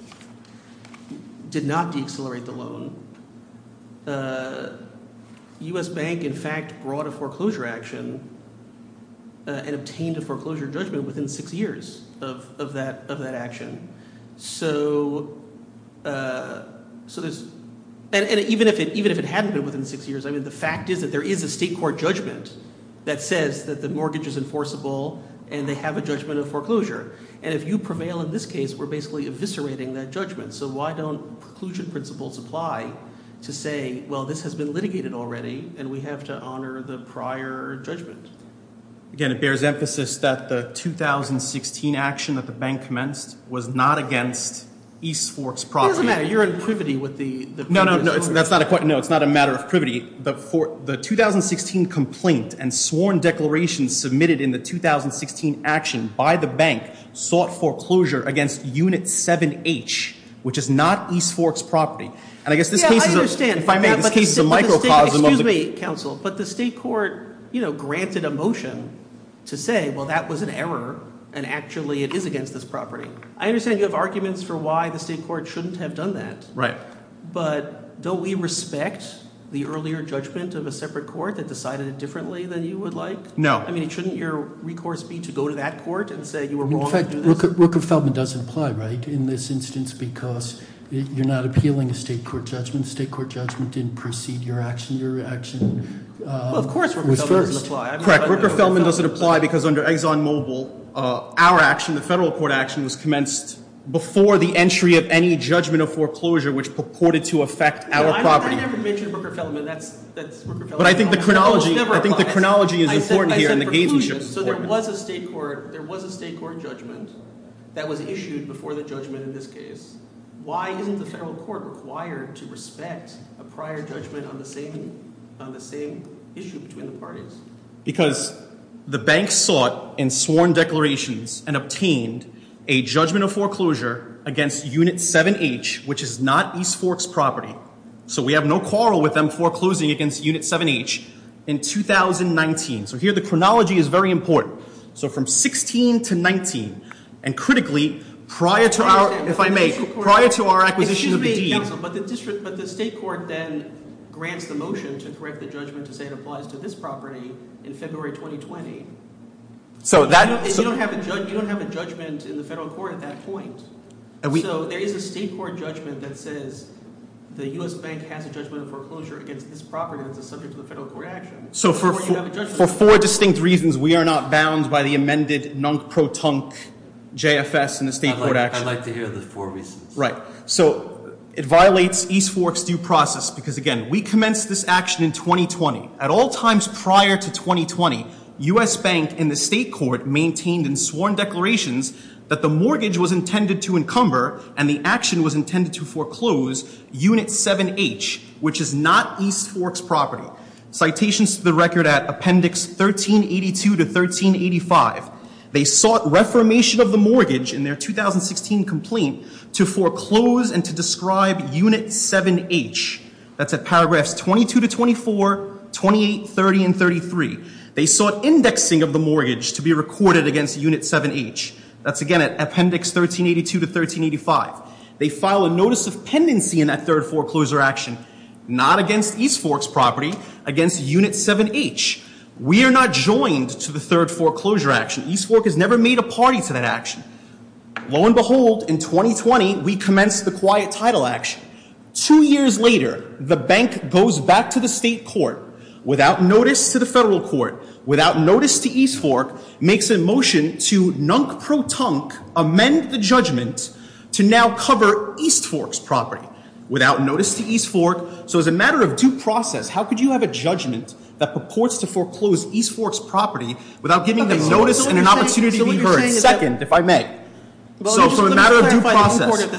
did not decelerate the loan, U.S. Bank, in fact, brought a foreclosure action and obtained a foreclosure judgment within six years of that action. So there's... And even if it hadn't been within six years, the fact is that there is a state court judgment that says that the mortgage is enforceable and they have a judgment of foreclosure. And if you prevail in this case, we're basically eviscerating that judgment. So why don't preclusion principles apply to say, well, this has been litigated already and we have to honor the prior judgment? Again, it bears emphasis that the 2016 action that the bank commenced was not against East Fork's property. It doesn't matter, you're in privity with the... No, no, that's not a... No, it's not a matter of privity. The 2016 complaint and sworn declaration submitted in the 2016 action by the bank sought foreclosure against Unit 7H, which is not East Fork's property. And I guess this... Yeah, I understand. If I may... Excuse me, counsel. But the state court, you know, granted a motion to say, well, that was an error and actually it is against this property. I understand you have arguments for why the state court shouldn't have done that. Right. But don't we respect the earlier judgment of a separate court that decided it differently than you would like? No. I mean, shouldn't your recourse be to go to that court and say you were wrong? Rooker-Feldman does apply, right, in this instance, because you're not appealing a state court judgment. State court judgment didn't precede your action. Your action... Well, of course Rooker-Feldman doesn't apply. Correct, Rooker-Feldman doesn't apply because under Exxon Mobil, our action, the federal court action, was commenced before the entry of any judgment of foreclosure, which purported to affect our property. I never mentioned Rooker-Feldman. But I think the chronology is important here. So there was a state court judgment that was issued before the judgment in this case. Why isn't the federal court required to respect a prior judgment on the same issue between the parties? Because the bank sought in sworn declarations and obtained a judgment of foreclosure against Unit 7H, which is not East Fork's property. So we have no quarrel with them foreclosing against Unit 7H in 2019. So here the chronology is very important. So from 16 to 19, and critically, prior to our... If I may, prior to our acquisition of the deed... But the state court then grants the motion to correct the judgment to send a bus to this property in February 2020. You don't have a judgment in the federal court at that point. So there is a state court judgment that says the U.S. Bank has a judgment of foreclosure against this property that was subject to the federal court action. So for four distinct reasons, we are not bound by the amended non-protunct JFS in the state court action. I'd like to hear those four reasons. Right. So it violates East Fork's due process because, again, we commenced this action in 2020. At all times prior to 2020, U.S. Bank and the state court maintained in sworn declarations that the mortgage was intended to encumber and the action was intended to foreclose Unit 7H, which is not East Fork's property. Citations to the record at Appendix 1382 to 1385. They sought reformation of the mortgage in their 2016 complaint to foreclose and to describe Unit 7H. That's at paragraphs 22 to 24, 28, 30, and 33. They sought indexing of the mortgage to be recorded against Unit 7H. That's, again, at Appendix 1382 to 1385. They filed a notice of pendency in that third foreclosure action, not against East Fork's property, against Unit 7H. We are not joined to the third foreclosure action. East Fork has never made a party to that action. Lo and behold, in 2020, we commenced the quiet title action. Two years later, the bank goes back to the state court without notice to the federal court, without notice to East Fork, makes a motion to nunk-pro-tunk, amend the judgment to now cover East Fork's property without notice to East Fork. So as a matter of due process, how could you have a judgment that purports to foreclose East Fork's property without giving them notice and an opportunity to be heard? Second, if I may. So as a matter of due process...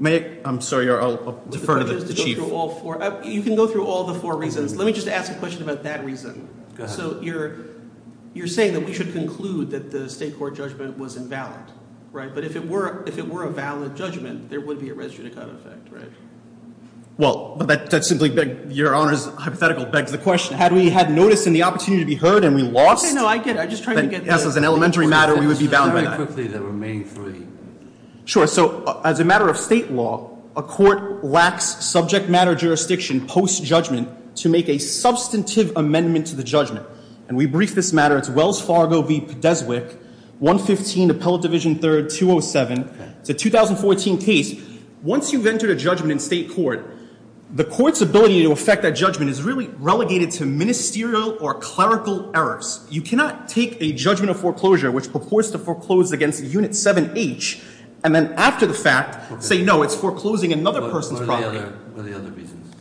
May I? I'm sorry. I'll defer to the chief. You can go through all the four reasons. Let me just ask a question about that reason. So you're saying that we should conclude that the state court judgment was invalid, right? But if it were a valid judgment, there would be a registry-type effect, right? Well, that's simply your Honor's hypothetical effect. The question, had we had notice and the opportunity to be heard and we lost... No, I did. I'm just trying to get... Sure. So as a matter of state law, a court lacks subject-matter jurisdiction post-judgment to make a substantive amendment to the judgment. And we briefed this matter at Wells Fargo v. Pedeswick, 115 Appellate Division 3rd, 207. The 2014 case, once you've entered a judgment in state court, the court's ability to affect that judgment is really relegated to ministerial or clerical errors. You cannot take a judgment of foreclosure which purports to foreclose against Unit 7H and then after the fact say, no, it's foreclosing another person's property. What are the other reasons?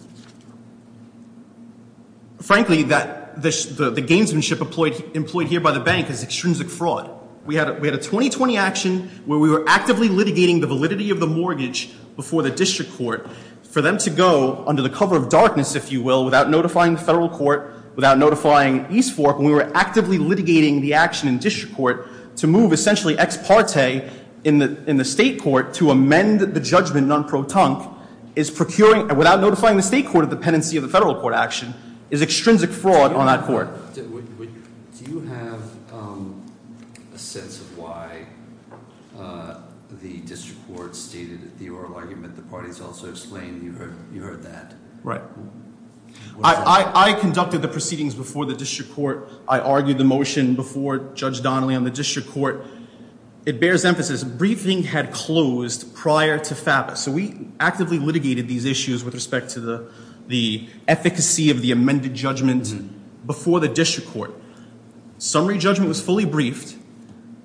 Frankly, the gamesmanship employed here by the bank is extrinsic fraud. We had a 2020 action where we were actively litigating the validity of the mortgage before the district court for them to go under the cover of darkness, if you will, without notifying the federal court, without notifying East Fork, when we were actively litigating the action in district court to move essentially ex parte in the state court to amend the judgment non pro tump without notifying the state court of the pendency of the federal court action is extrinsic fraud on that court. Do you have a sense of why the district court stated that the oral argument that the parties also explained, you heard that? Right. I conducted the proceedings before the district court. I argued the motion before Judge Donnelly on the district court. It bears emphasis. Briefing had closed prior to FAPA. So we actively litigated these issues with respect to the efficacy of the amended judgments before the district court. Summary judgment was fully briefed.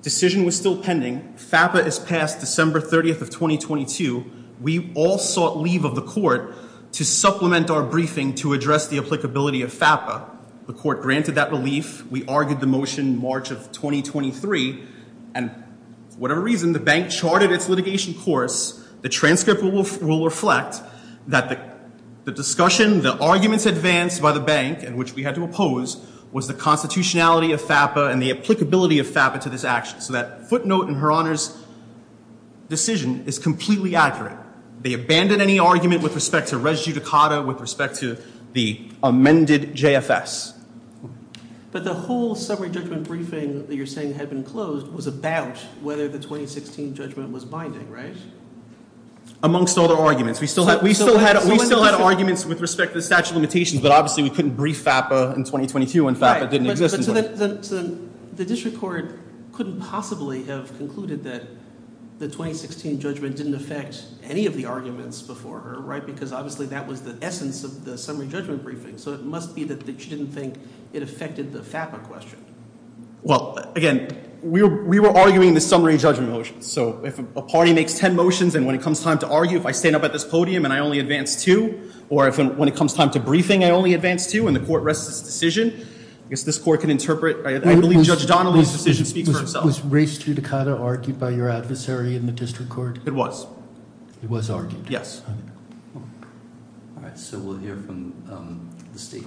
Decision was still pending. FAPA is passed December 30th of 2022. We all sought leave of the court to supplement our briefing to address the applicability of FAPA. The court granted that relief. We argued the motion March of 2023. And whatever reason, the bank charted its litigation course. The transcript will reflect that the discussion, the arguments advanced by the bank, and which we had to oppose, was the constitutionality of FAPA and the applicability of FAPA to this action. So that footnote in Her Honor's decision is completely accurate. They abandoned any argument with respect to res judicata, with respect to the amended JFS. But the whole summary judgment briefing that you're saying had been closed was about whether the 2016 judgment was binding, right? Amongst all the arguments. We still had arguments with respect to statute of limitations, but obviously we couldn't brief FAPA in 2022 when FAPA didn't exist. The district court couldn't possibly have concluded that the 2016 judgment didn't affect any of the arguments before her, right? Because obviously that was the essence of the summary judgment briefing. So it must be that she didn't think it affected the FAPA question. Well, again, we were arguing the summary judgment motion. So if a party makes ten motions, and when it comes time to argue, if I stand up at this podium and I only advance two, or when it comes time to briefing, I only advance two and the court rests its decision, I guess this court can interpret, I believe Judge Donnelly's decision speaks for itself. Was race judicata argued by your adversary in the district court? It was. It was argued. Yes. All right, so we'll hear from the state.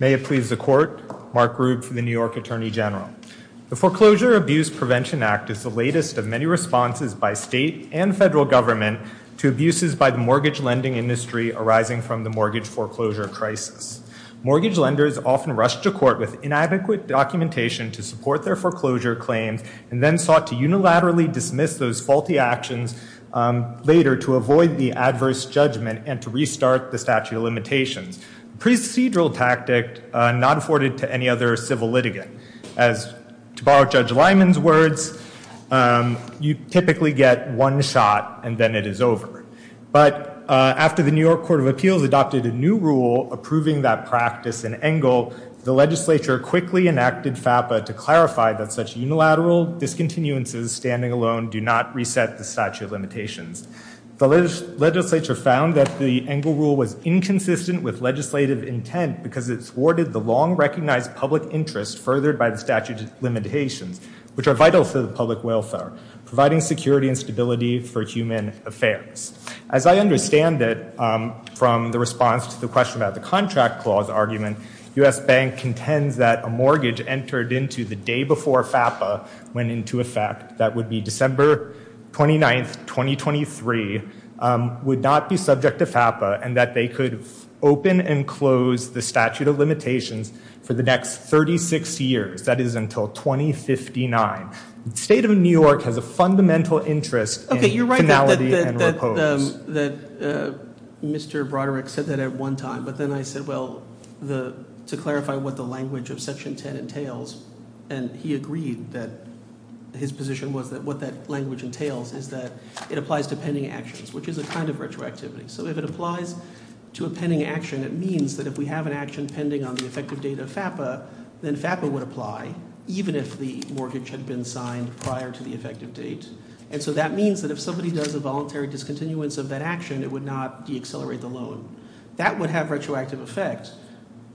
May it please the court, Mark Rude from the New York Attorney General. The Foreclosure Abuse Prevention Act is the latest of many responses by state and federal government to abuses by the mortgage lending industry arising from the mortgage foreclosure crisis. Mortgage lenders often rush to court with inadequate documentation to support their foreclosure claim and then sought to unilaterally dismiss those faulty actions later to avoid the adverse judgment and to restart the statute of limitations. Procedural tactic not afforded to any other civil litigant. As, to borrow Judge Lyman's words, you typically get one shot and then it is over. But after the New York Court of Appeals adopted a new rule approving that practice in Engle, the legislature quickly enacted FAPA to clarify that such unilateral discontinuances standing alone do not reset the statute of limitations. The legislature found that the Engle rule was inconsistent with legislative intent because it thwarted the long-recognized public interest furthered by the statute of limitations, which are vital to the public welfare, providing security and stability for human affairs. As I understand it from the response to the question about the contract clause argument, the U.S. Bank contends that a mortgage entered into the day before FAPA went into effect, that would be December 29, 2023, would not be subject to FAPA and that they could open and close the statute of limitations for the next 36 years, that is until 2059. The state of New York has a fundamental interest in finality and repose. You're right now that Mr. Broderick said that at one time, but then I said, well, to clarify what the language of Section 10 entails, and he agreed that his position was that what that language entails is that it applies to pending actions, which is a kind of retroactivity. So if it applies to a pending action, that means that if we have an action pending on the effective date of FAPA, then FAPA would apply, even if the mortgage had been signed prior to the effective date. And so that means that if somebody does a voluntary discontinuance of that action, it would not deaccelerate the loan. That would have retroactive effects,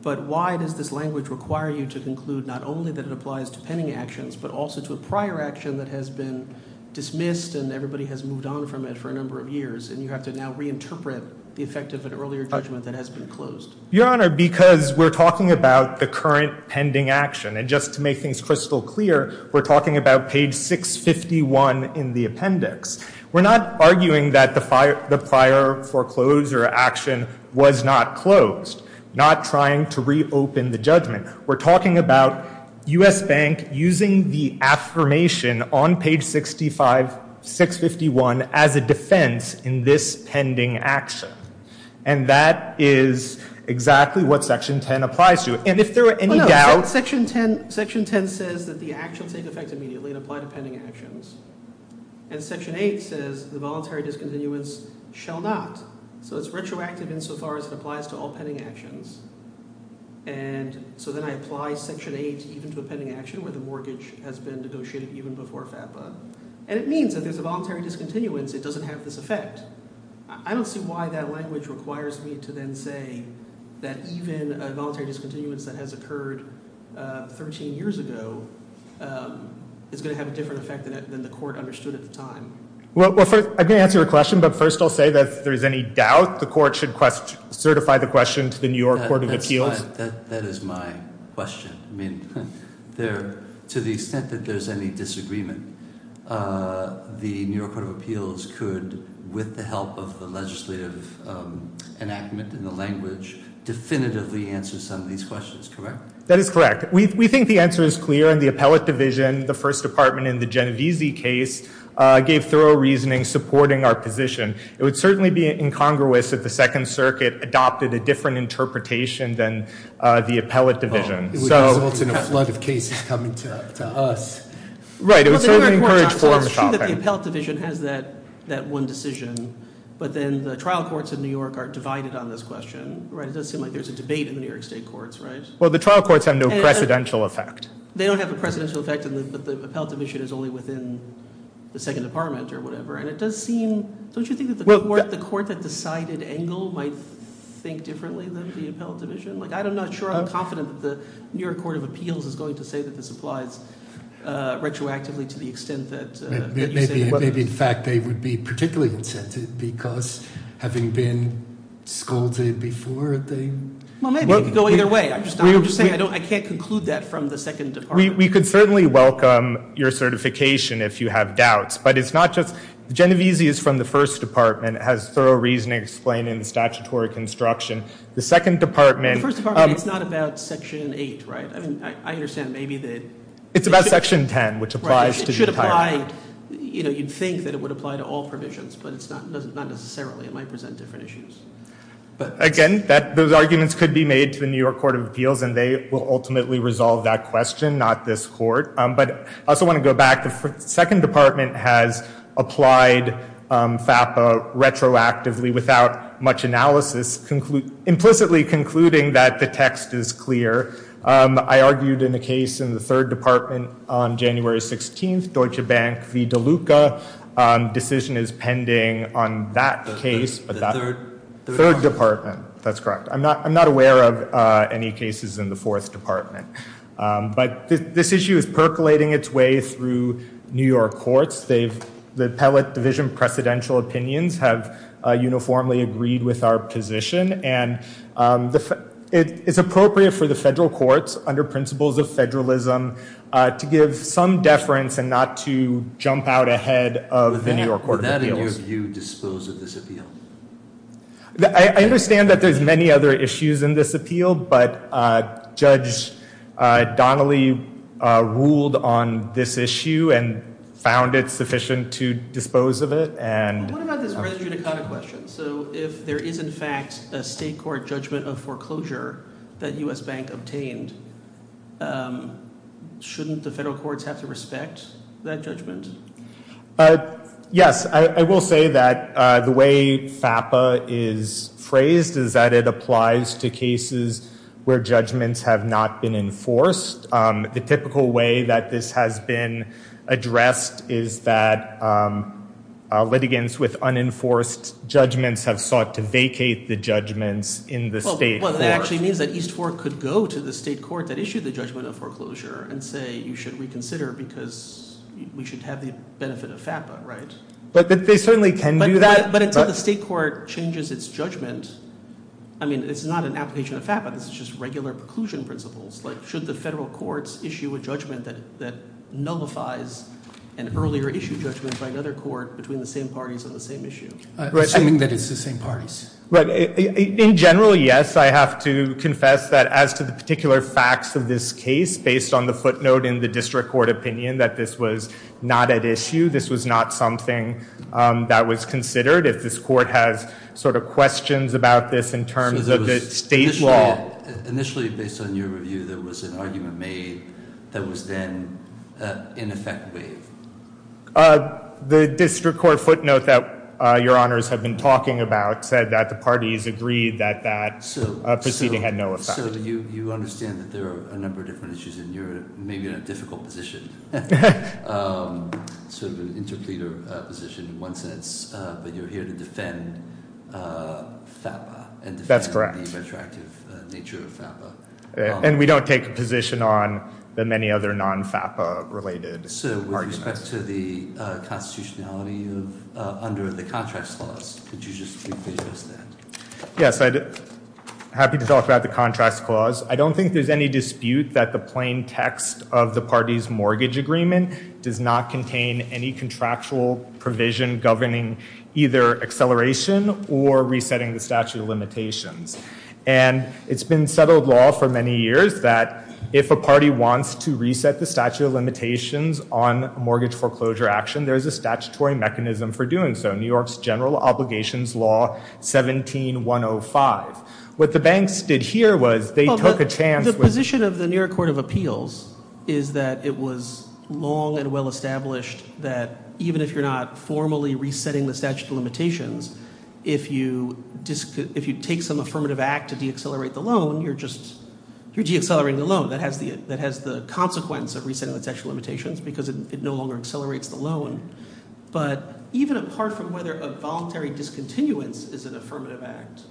but why does this language require you to conclude not only that it applies to pending actions, but also to a prior action that has been dismissed and everybody has moved on from it for a number of years and you have to now reinterpret the effect of an earlier judgment that has been closed? Your Honor, because we're talking about the current pending action, and just to make things crystal clear, we're talking about page 651 in the appendix. We're not arguing that the prior foreclosure action was not closed, not trying to reopen the judgment. We're talking about U.S. Bank using the affirmation on page 651 as a defense in this pending action. And that is exactly what section 10 applies to. And if there were any doubts... No, section 10 says that the action will take effect immediately and apply to pending actions. And section 8 says the voluntary discontinuance shall not. So it's retroactive insofar as it applies to all pending actions. And so then I apply section 8 even to a pending action where the mortgage has been negotiated even before FAPA. And it means that if there's a voluntary discontinuance, it doesn't have this effect. I don't see why that language requires me to then say that even a voluntary discontinuance that has occurred 13 years ago is going to have a different effect than the court understood at the time. Well, I didn't answer your question, but first I'll say that if there's any doubt, the court should certify the question to the New York Court of Appeals. That is my question. To the extent that there's any disagreement, the New York Court of Appeals could, with the help of the legislative enactment and the language, definitively answer some of these questions, correct? That is correct. We think the answer is clear, and the appellate division, the first department in the Genvizi case, gave thorough reasoning supporting our position. It would certainly be incongruous if the Second Circuit adopted a different interpretation than the appellate division. It would result in a flood of cases coming to us. Right, it would certainly encourage forum shopping. It's true that the appellate division has that one decision, but then the trial courts in New York are divided on this question, right? It does seem like there's a debate in the New York state courts, right? Well, the trial courts have no precedential effect. They don't have a precedential effect, and the appellate division is only within the second department or whatever. Don't you think that the court that decided Engel might think differently than for the appellate division? I'm not sure I'm confident that the New York Court of Appeals is going to say that this applies retroactively to the extent that... Maybe, in fact, they would be particularly incentive because having been scolded before, they... Well, maybe. No, either way. I can't conclude that from the second department. We could certainly welcome your certification if you have doubts, but it's not just... Genvizi is from the first department, has thorough reasoning explaining the statutory construction. The second department... The first department is not about Section 8, right? I mean, I understand maybe that... It's about Section 10, which applies to... It should apply... You know, you'd think that it would apply to all provisions, but it's not necessarily. It might present different issues. Again, those arguments could be made to the New York Court of Appeals, and they will ultimately resolve that question, not this court. But I also want to go back. The second department has applied FAFA retroactively without much analysis, implicitly concluding that the text is clear. I argued in a case in the third department on January 16th, Deutsche Bank. The DeLuca decision is pending on that case. The third? Third department. That's correct. I'm not aware of any cases in the fourth department. But this issue is percolating its way through New York courts. The appellate division of precedential opinions have uniformly agreed with our position, and it's appropriate for the federal courts, under principles of federalism, to give some deference and not to jump out ahead of the New York Court of Appeals. Would that issue dispose of this appeal? I understand that there's many other issues in this appeal, but Judge Donnelly ruled on this issue and found it sufficient to dispose of it. What about this resume question? So if there is, in fact, a state court judgment of foreclosure that U.S. Bank obtained, shouldn't the federal courts have to respect that judgment? Yes, I will say that the way FAFA is phrased is that it applies to cases where judgments have not been enforced. The typical way that this has been addressed is that litigants with unenforced judgments have sought to vacate the judgments in the state courts. Well, that actually means that each court could go to the state court that issued the judgment of foreclosure and say, you should reconsider because we should have the benefit of FAFA, right? But they certainly can do that. But if the state court changes its judgment, I mean, it's not an application of FAFA, it's just regular preclusion principles. Like, should the federal courts issue a judgment that nullifies an earlier issue judgment by another court between the same parties on the same issue? Right, I mean that it's the same parties. In general, yes, I have to confess that as to the particular facts of this case, based on the footnote in the district court opinion that this was not at issue, this was not something that was considered. If this court has sort of questions about this in terms of the state law... Initially, based on your review, there was an argument made that was then, in effect, waived. The district court footnote that your honors have been talking about said that the parties agreed that that proceeding had no effect. So you understand that there are a number of different issues and you're maybe in a difficult position. So the interfere position in one sense, but you're here to defend FAFA. That's correct. And defend the retroactive nature of FAFA. And we don't take a position on the many other non-FAFA-related parties. So with respect to the constitutionality under the Contracts Clause, could you just give us that? Yes, I'm happy to talk about the Contracts Clause. I don't think there's any dispute that the plain text of the party's mortgage agreement does not contain any contractual provision governing either acceleration or resetting the statute of limitations. And it's been settled law for many years that if a party wants to reset the statute of limitations on mortgage foreclosure action, there's a statutory mechanism for doing so, New York's General Obligations Law 17-105. What the banks did here was they took a chance... The position of the New York Court of Appeals is that it was long and well established that even if you're not formally resetting the statute of limitations, if you take some affirmative act to deaccelerate the loan, you're just deaccelerating the loan. That has the consequence of resetting the statute of limitations because it no longer accelerates the loan. But even apart from whether a voluntary discontinuance is an affirmative act,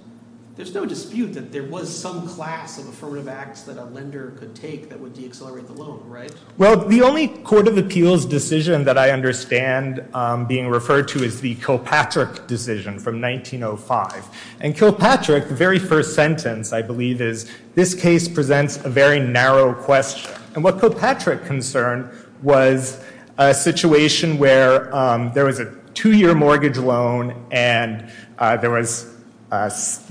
there's no dispute that there was some class of affirmative act that a lender could take that would deaccelerate the loan, right? Well, the only Court of Appeals decision that I understand being referred to is the Kilpatrick decision from 1905. And Kilpatrick, the very first sentence, I believe, is, this case presents a very narrow question. And what Kilpatrick concerned was a situation where there was a two-year mortgage loan and there was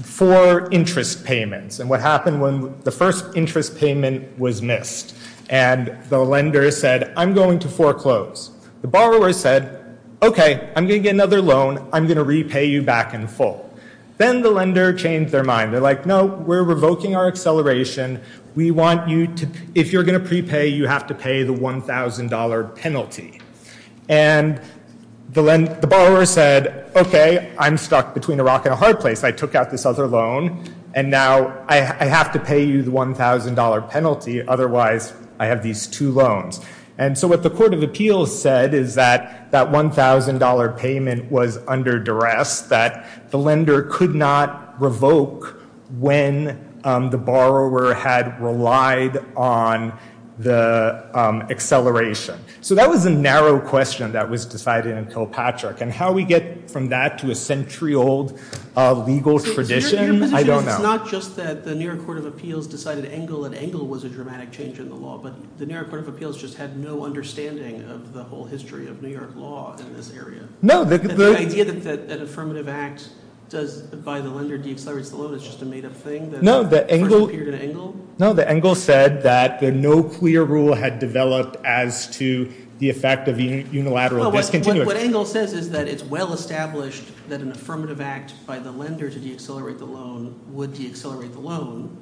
four interest payments. And what happened when the first interest payment was missed? And the lender said, I'm going to foreclose. The borrower said, okay, I'm going to get another loan. I'm going to repay you back in full. Then the lender changed their mind. They're like, no, we're revoking our acceleration. We want you to, if you're going to prepay, you have to pay the $1,000 penalty. And the borrower said, okay, I'm stuck between a rock and a hard place. I took out this other loan and now I have to pay you the $1,000 penalty. Otherwise, I have these two loans. And so what the Court of Appeals said is that that $1,000 payment was under duress, that the lender could not revoke when the borrower had relied on the acceleration. So that was the narrow question that was decided in Kilpatrick. And how we get from that to a century-old legal tradition, I don't know. It's not just that the New York Court of Appeals decided Engle and Engle was a dramatic change in the law, but the New York Court of Appeals just had no understanding of the whole history of New York law in this area. The idea that an affirmative act by the lender deaccelerates the loan is just a native thing that might have appeared in Engle? No, Engle said that no clear rule had developed as to the effect of unilateral continuous. What Engle said is that it's well established that an affirmative act by the lender to deaccelerate the loan would deaccelerate the loan.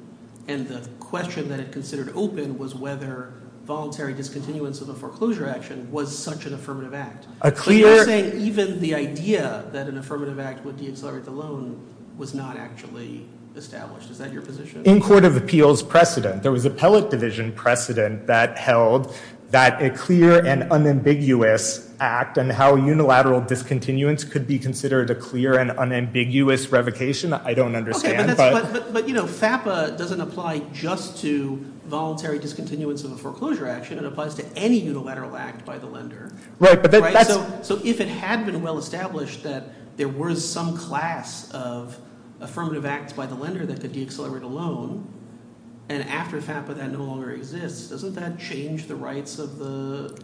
And the question that it considered open was whether voluntary discontinuance of a foreclosure action was such an affirmative act. So you're saying even the idea that an affirmative act would deaccelerate the loan was not actually established. Is that your position? In court of appeals precedent, there was appellate division precedent that held that a clear and unambiguous act and how unilateral discontinuance could be considered a clear and unambiguous revocation. I don't understand. But FAPA doesn't apply just to voluntary discontinuance of a foreclosure action. It applies to any unilateral act by the lender. So if it had been well established that there was some class of affirmative act by the lender that could deaccelerate a loan, and after FAPA that no longer exists, doesn't that change the rights of the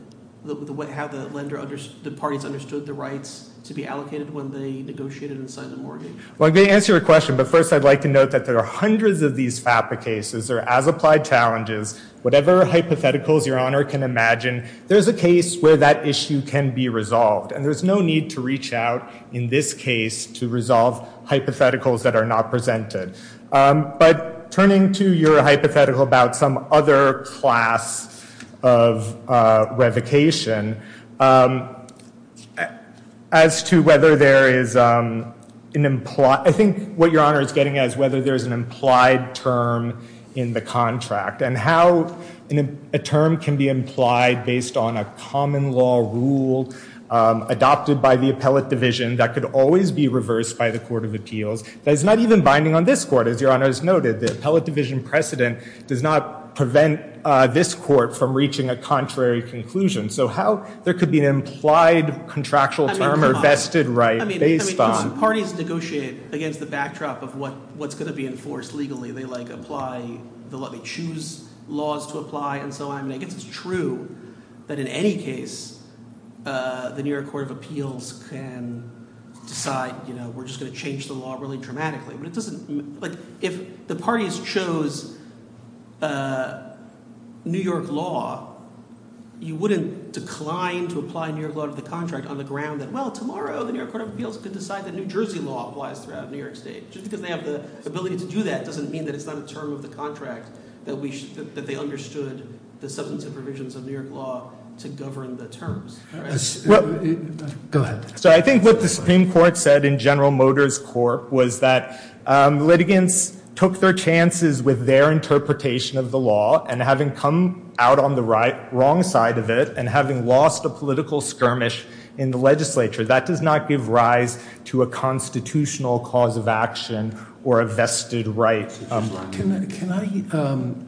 parties understood the rights to be allocated when they negotiated and signed the mortgage? Well, to answer your question, but first I'd like to note that there are hundreds of these FAPA cases that are as applied challenges. Whatever hypotheticals your honor can imagine, there's a case where that issue can be resolved. And there's no need to reach out in this case to resolve hypotheticals that are not presented. But turning to your hypothetical about some other class of revocation, as to whether there is an implied, I think what your honor is getting at is whether there's an implied term in the contract, and how a term can be implied based on a common law rule adopted by the appellate division that could always be reversed by the Court of Appeals. That is not even binding on this court, as your honor has noted. The appellate division precedent does not prevent this court from reaching a contrary conclusion. So how there could be an implied contractual term or vested right based on. I mean, parties negotiate against the backdrop of what's going to be enforced legally. They like apply, they'll let me choose laws to apply and so on. And I guess it's true that in any case, the New York Court of Appeals can decide, we're just going to change the law really dramatically. If the parties chose New York law, you wouldn't decline to apply New York law to the contract on the ground that, well, tomorrow the New York Court of Appeals could decide that New Jersey law applies throughout New York state. Just because they have the ability to do that doesn't mean that it's not a term of the contract that they understood the substantive provisions of New York law to govern the terms. Go ahead. So I think what the Supreme Court said in General Motors Court was that litigants took their chances with their interpretation of the law and having come out on the wrong side of it and having lost a political skirmish in the legislature. That does not give rise to a constitutional cause of action or a vested right. Can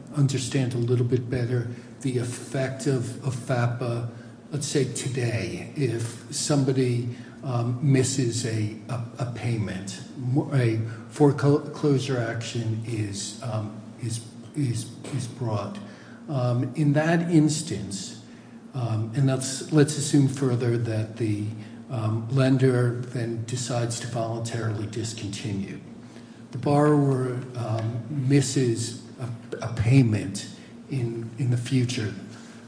I understand a little bit better the effect of FAPA, let's say today, if somebody misses a payment? A foreclosure action is brought. In that instance, and let's assume further that the lender then decides to voluntarily discontinue. The borrower misses a payment in the future.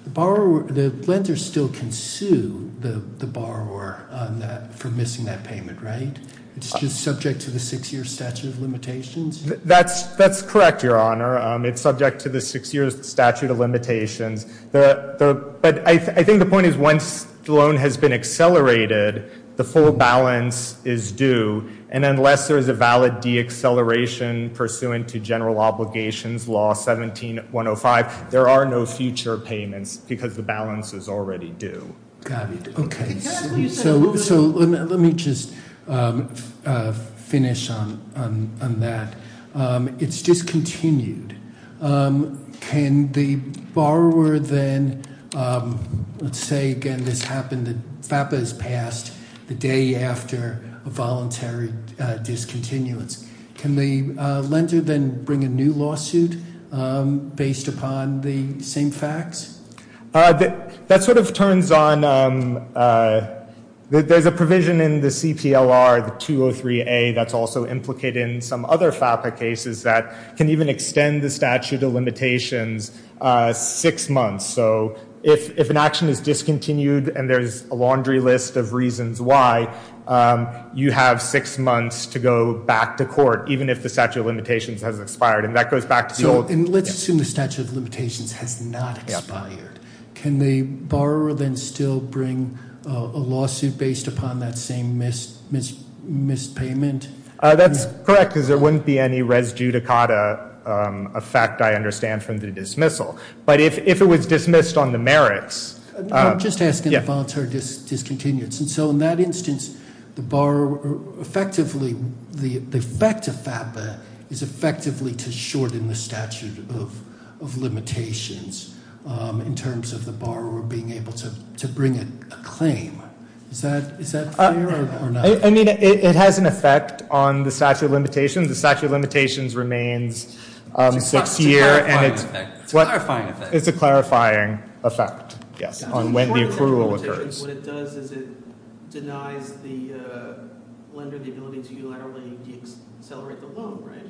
The lender still can sue the borrower for missing that payment, right? It's just subject to the six-year statute of limitations? That's correct, Your Honor. It's subject to the six-year statute of limitations. But I think the point is once the loan has been accelerated, the full balance is due. And unless there is a valid deacceleration pursuant to General Obligations Law 17-105, there are no future payments because the balance is already due. Got it. OK. So let me just finish on that. It's discontinued. Can the borrower then, let's say, again, this happened that FAPA has passed the day after a voluntary discontinuance. Can the lender then bring a new lawsuit based upon the same facts? That sort of turns on, there's a provision in the CTLR, the 203A, that's also implicated in some other FAPA cases that can even extend the statute of limitations six months. So if an action is discontinued and there's a laundry list of reasons why, you have six months to go back to court, even if the statute of limitations hasn't expired. And that goes back to the old- And let's assume the statute of limitations has not expired. Can the borrower then still bring a lawsuit based upon that same mispayment? That's correct, because there wouldn't be any res judicata effect, I understand, from the dismissal. But if it was dismissed on the merits- I'm just asking if it's voluntary discontinuance. And so in that instance, the borrower effectively, the effect of FAPA is effectively to shorten the statute of limitations in terms of the borrower being able to bring a claim. Is that clear or not? I mean, it has an effect on the statute of limitations. The statute of limitations remains secure. It's a clarifying effect. It's a clarifying effect on when the accrual occurs. What it does is it denies the length of the ability to accelerate the loan, right?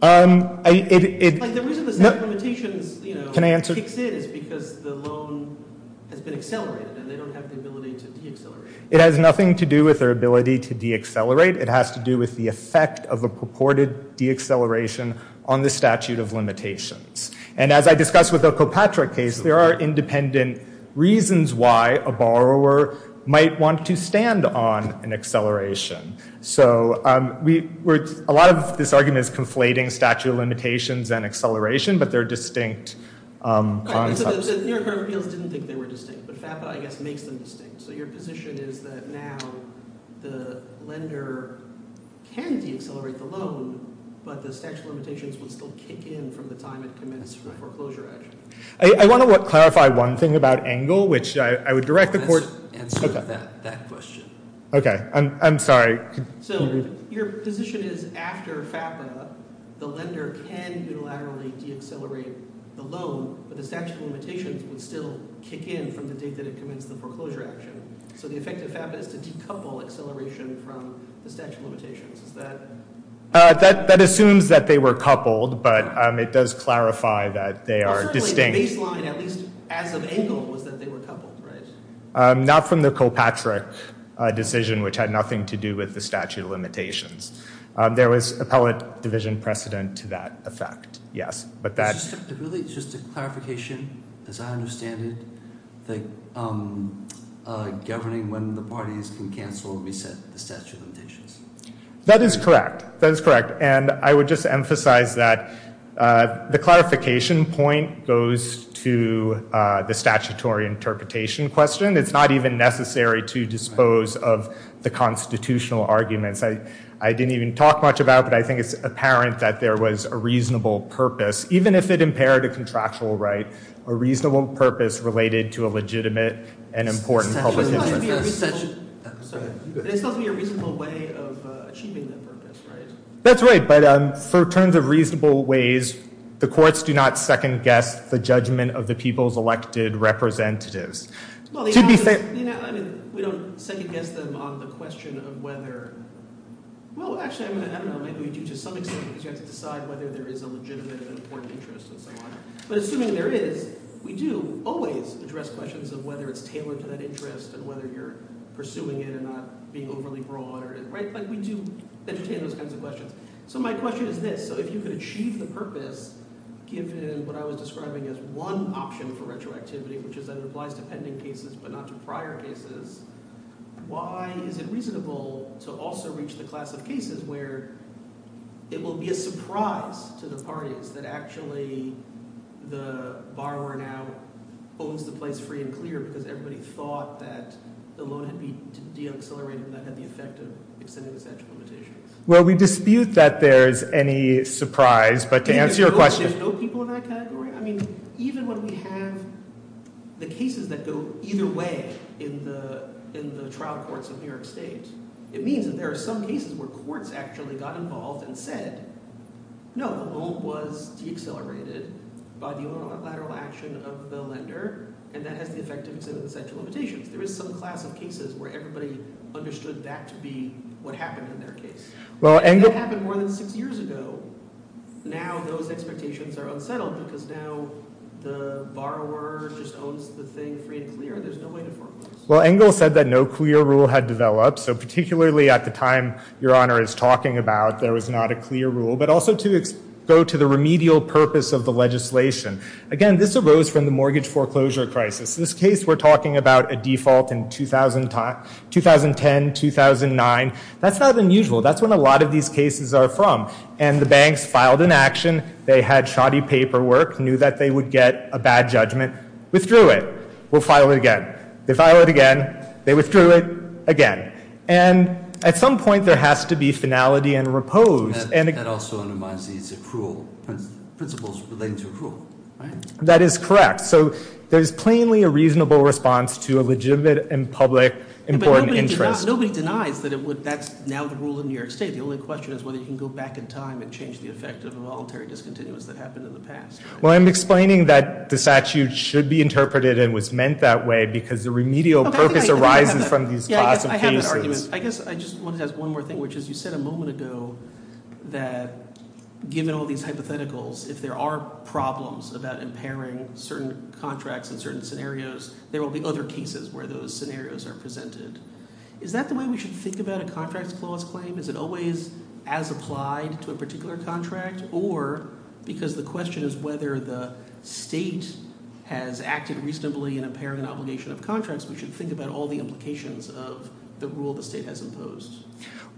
And the reason the statute of limitations exists is because the loan has been accelerated. They don't have the ability to deaccelerate. It has nothing to do with their ability to deaccelerate. It has to do with the effect of a purported deacceleration on the statute of limitations. And as I discussed with the Kilpatrick case, there are independent reasons why a borrower might want to stand on an acceleration. So a lot of this argument is conflating statute of limitations and acceleration, but they're distinct. So the New York Bureau of Appeals didn't think they were distinct, but FAPA, I guess, makes them distinct. So your position is that now the lender can deaccelerate the loan, but the statute of limitations would still kick in from the time it commenced for foreclosure action. I want to clarify one thing about angle, which I would direct the court to. Answer that question. OK. I'm sorry. So your position is after FAPA, the lender can unilaterally deaccelerate the loan, but the statute of limitations would still kick in from the date that it commenced the foreclosure action. So the effect of FAPA is to decouple acceleration from the statute of limitations. Is that a thing? That assumes that they were coupled, but it does clarify that they are distinct. The baseline, at least as of angle, was that they were coupled, right? Not from the Kilpatrick decision, which had nothing to do with the statute of limitations. There was appellate division precedent to that effect, yes. But that's- Really, it's just a clarification. As I understand it, governing when the parties can cancel resets the statute of limitations. That is correct. That is correct. And I would just emphasize that the clarification point goes to the statutory interpretation question. It's not even necessary to dispose of the constitutional arguments. I didn't even talk much about it, but I think it's apparent that there was a reasonable purpose. Even if it impaired a contractual right, a reasonable purpose related to a legitimate and important public interest. You mentioned a reasonable way of achieving that purpose. That's right. But for terms of reasonable ways, the courts do not second-guess the judgment of the people's elected representatives. Well, yeah, we don't second-guess them on the question of whether- Well, actually, I don't know. Maybe we do, to some extent, because you have to decide whether there is a legitimate and important interest in some way. But assuming there is, we do always address questions of whether it's tailored to that interest and whether you're pursuing it and not being overly broad-minded. But we do entertain those kinds of questions. So my question is this. So if you could achieve the purpose, given what I was describing as one option for retroactivity, which is that it applies to pending cases, but not to prior cases, why is it reasonable to also reach the class of cases where it will be a surprise to the parties that actually the borrower now holds the place free and clear because everybody thought that the loan had been de-accelerated and that had the effect of extended sexual limitation? Well, we dispute that there's any surprise. But to answer your question- There's no people in that category? I mean, even when we have the cases that go either way in the trial courts of the United States, it means that there are some cases where courts actually got involved and said, no, the loan was de-accelerated by the unilateral action of the lender and that has the effect of extended sexual limitation. There is some class of cases where everybody understood that to be what happened in their case. Well, Engle- That happened more than six years ago. Now those expectations are unsettled because now the borrower just owns the thing free and clear. There's no way to- Well, Engle said that no clear rule had developed. So particularly at the time Your Honor is talking about, there was not a clear rule. But also to go to the remedial purpose of the legislation. Again, this arose from the mortgage foreclosure crisis. In this case, we're talking about a default in 2010, 2009. That's not unusual. That's when a lot of these cases are from. And the banks filed an action. They had shoddy paperwork, knew that they would get a bad judgment, withdrew it. We'll file it again. They file it again. They withdrew it again. And at some point, there has to be finality and repose. And it also reminds me it's accrual. Principles relating to accrual. That is correct. So there's plainly a reasonable response to a legitimate and public important interest. Nobody denies that that's now the rule in New York State. The only question is whether you can go back in time and change the effect of the voluntary discontinuance that happened in the past. Well, I'm explaining that the statute should be interpreted and was meant that way because the remedial purpose arises from these classifications. I have an argument. I guess I just want to ask one more thing, which is you said a moment ago that given all these hypotheticals, if there are problems about impairing certain contracts in certain scenarios, there will be other cases where those scenarios are presented. Is that the way we should think about a contract clause claim? Is it always as applied to a particular contract? Or because the question is whether the state has acted reasonably in impairing obligation of contracts, we should think about all the implications of the rule the state has imposed.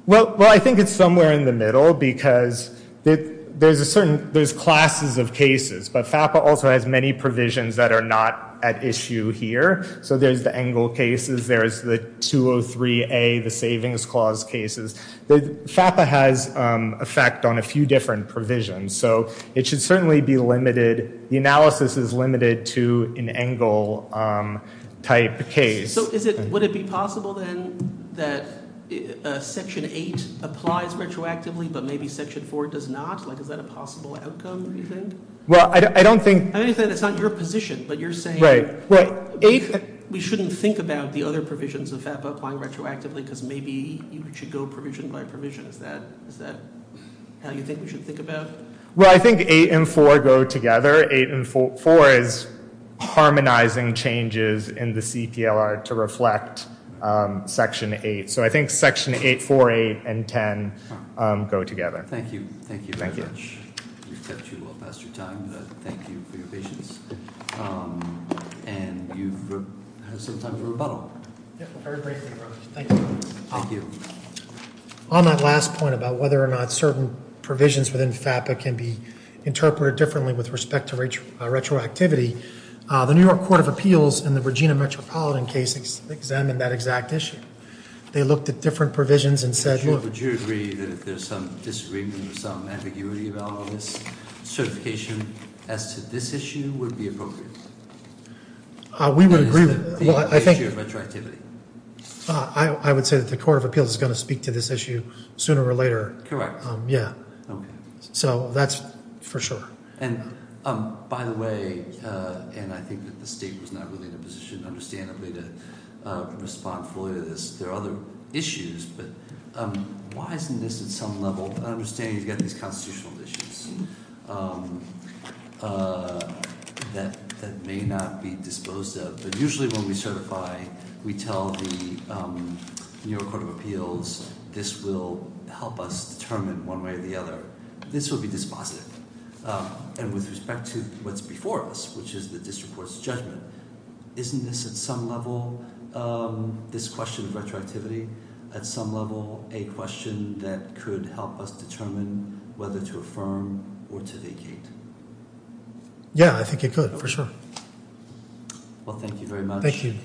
Well, I think it's somewhere in the middle because there's classes of cases. But FAPA also has many provisions that are not at issue here. So there's the Engle cases. There's the 203A, the Savings Clause cases. FAPA has effect on a few different provisions. So it should certainly be limited. The analysis is limited to an Engle-type case. So would it be possible, then, that Section 8 applies retroactively, but maybe Section 4 does not? Is that a possible outcome, do you think? Well, I don't think... I know you said it's not your position, but you're saying... Right. We shouldn't think about the other provisions of FAPA applying retroactively because maybe you should go provision by provision. Is that how you think we should think about it? Well, I think 8 and 4 go together. 8 and 4 is harmonizing changes in the CPLR to reflect Section 8. So I think Section 8, 4, 8, and 10 go together. Thank you. Thank you very much. We've cut you off past your time, but thank you for your patience. And you still have time for a rebuttal. Yes, a very great rebuttal. Thank you. Thank you. On that last point about whether or not certain provisions within FAPA can be interpreted differently with respect to retroactivity, the New York Court of Appeals in the Virginia Metropolitan case examined that exact issue. They looked at different provisions and said... Would you agree that there's some disagreement or some ambiguity about this certification as to this issue would be appropriate? We would agree with... I think... I would say that the Court of Appeals is going to speak to this issue sooner or later. Correct. Yeah. Okay. So that's for sure. And by the way, and I think that the State was not really in a position to respond fully to this. There are other issues, but why isn't this at some level... I understand you've got these constitutional issues that may not be disposed of, but usually when we certify, we tell the New York Court of Appeals this will help us determine one way or the other. This will be dispositive. And with respect to what's before us, which is the district court's judgment, isn't this at some level, this question of retroactivity, at some level a question that could help us determine whether to affirm or to vacate? Yeah, I think it could, for sure. Well, thank you very much. Thank you.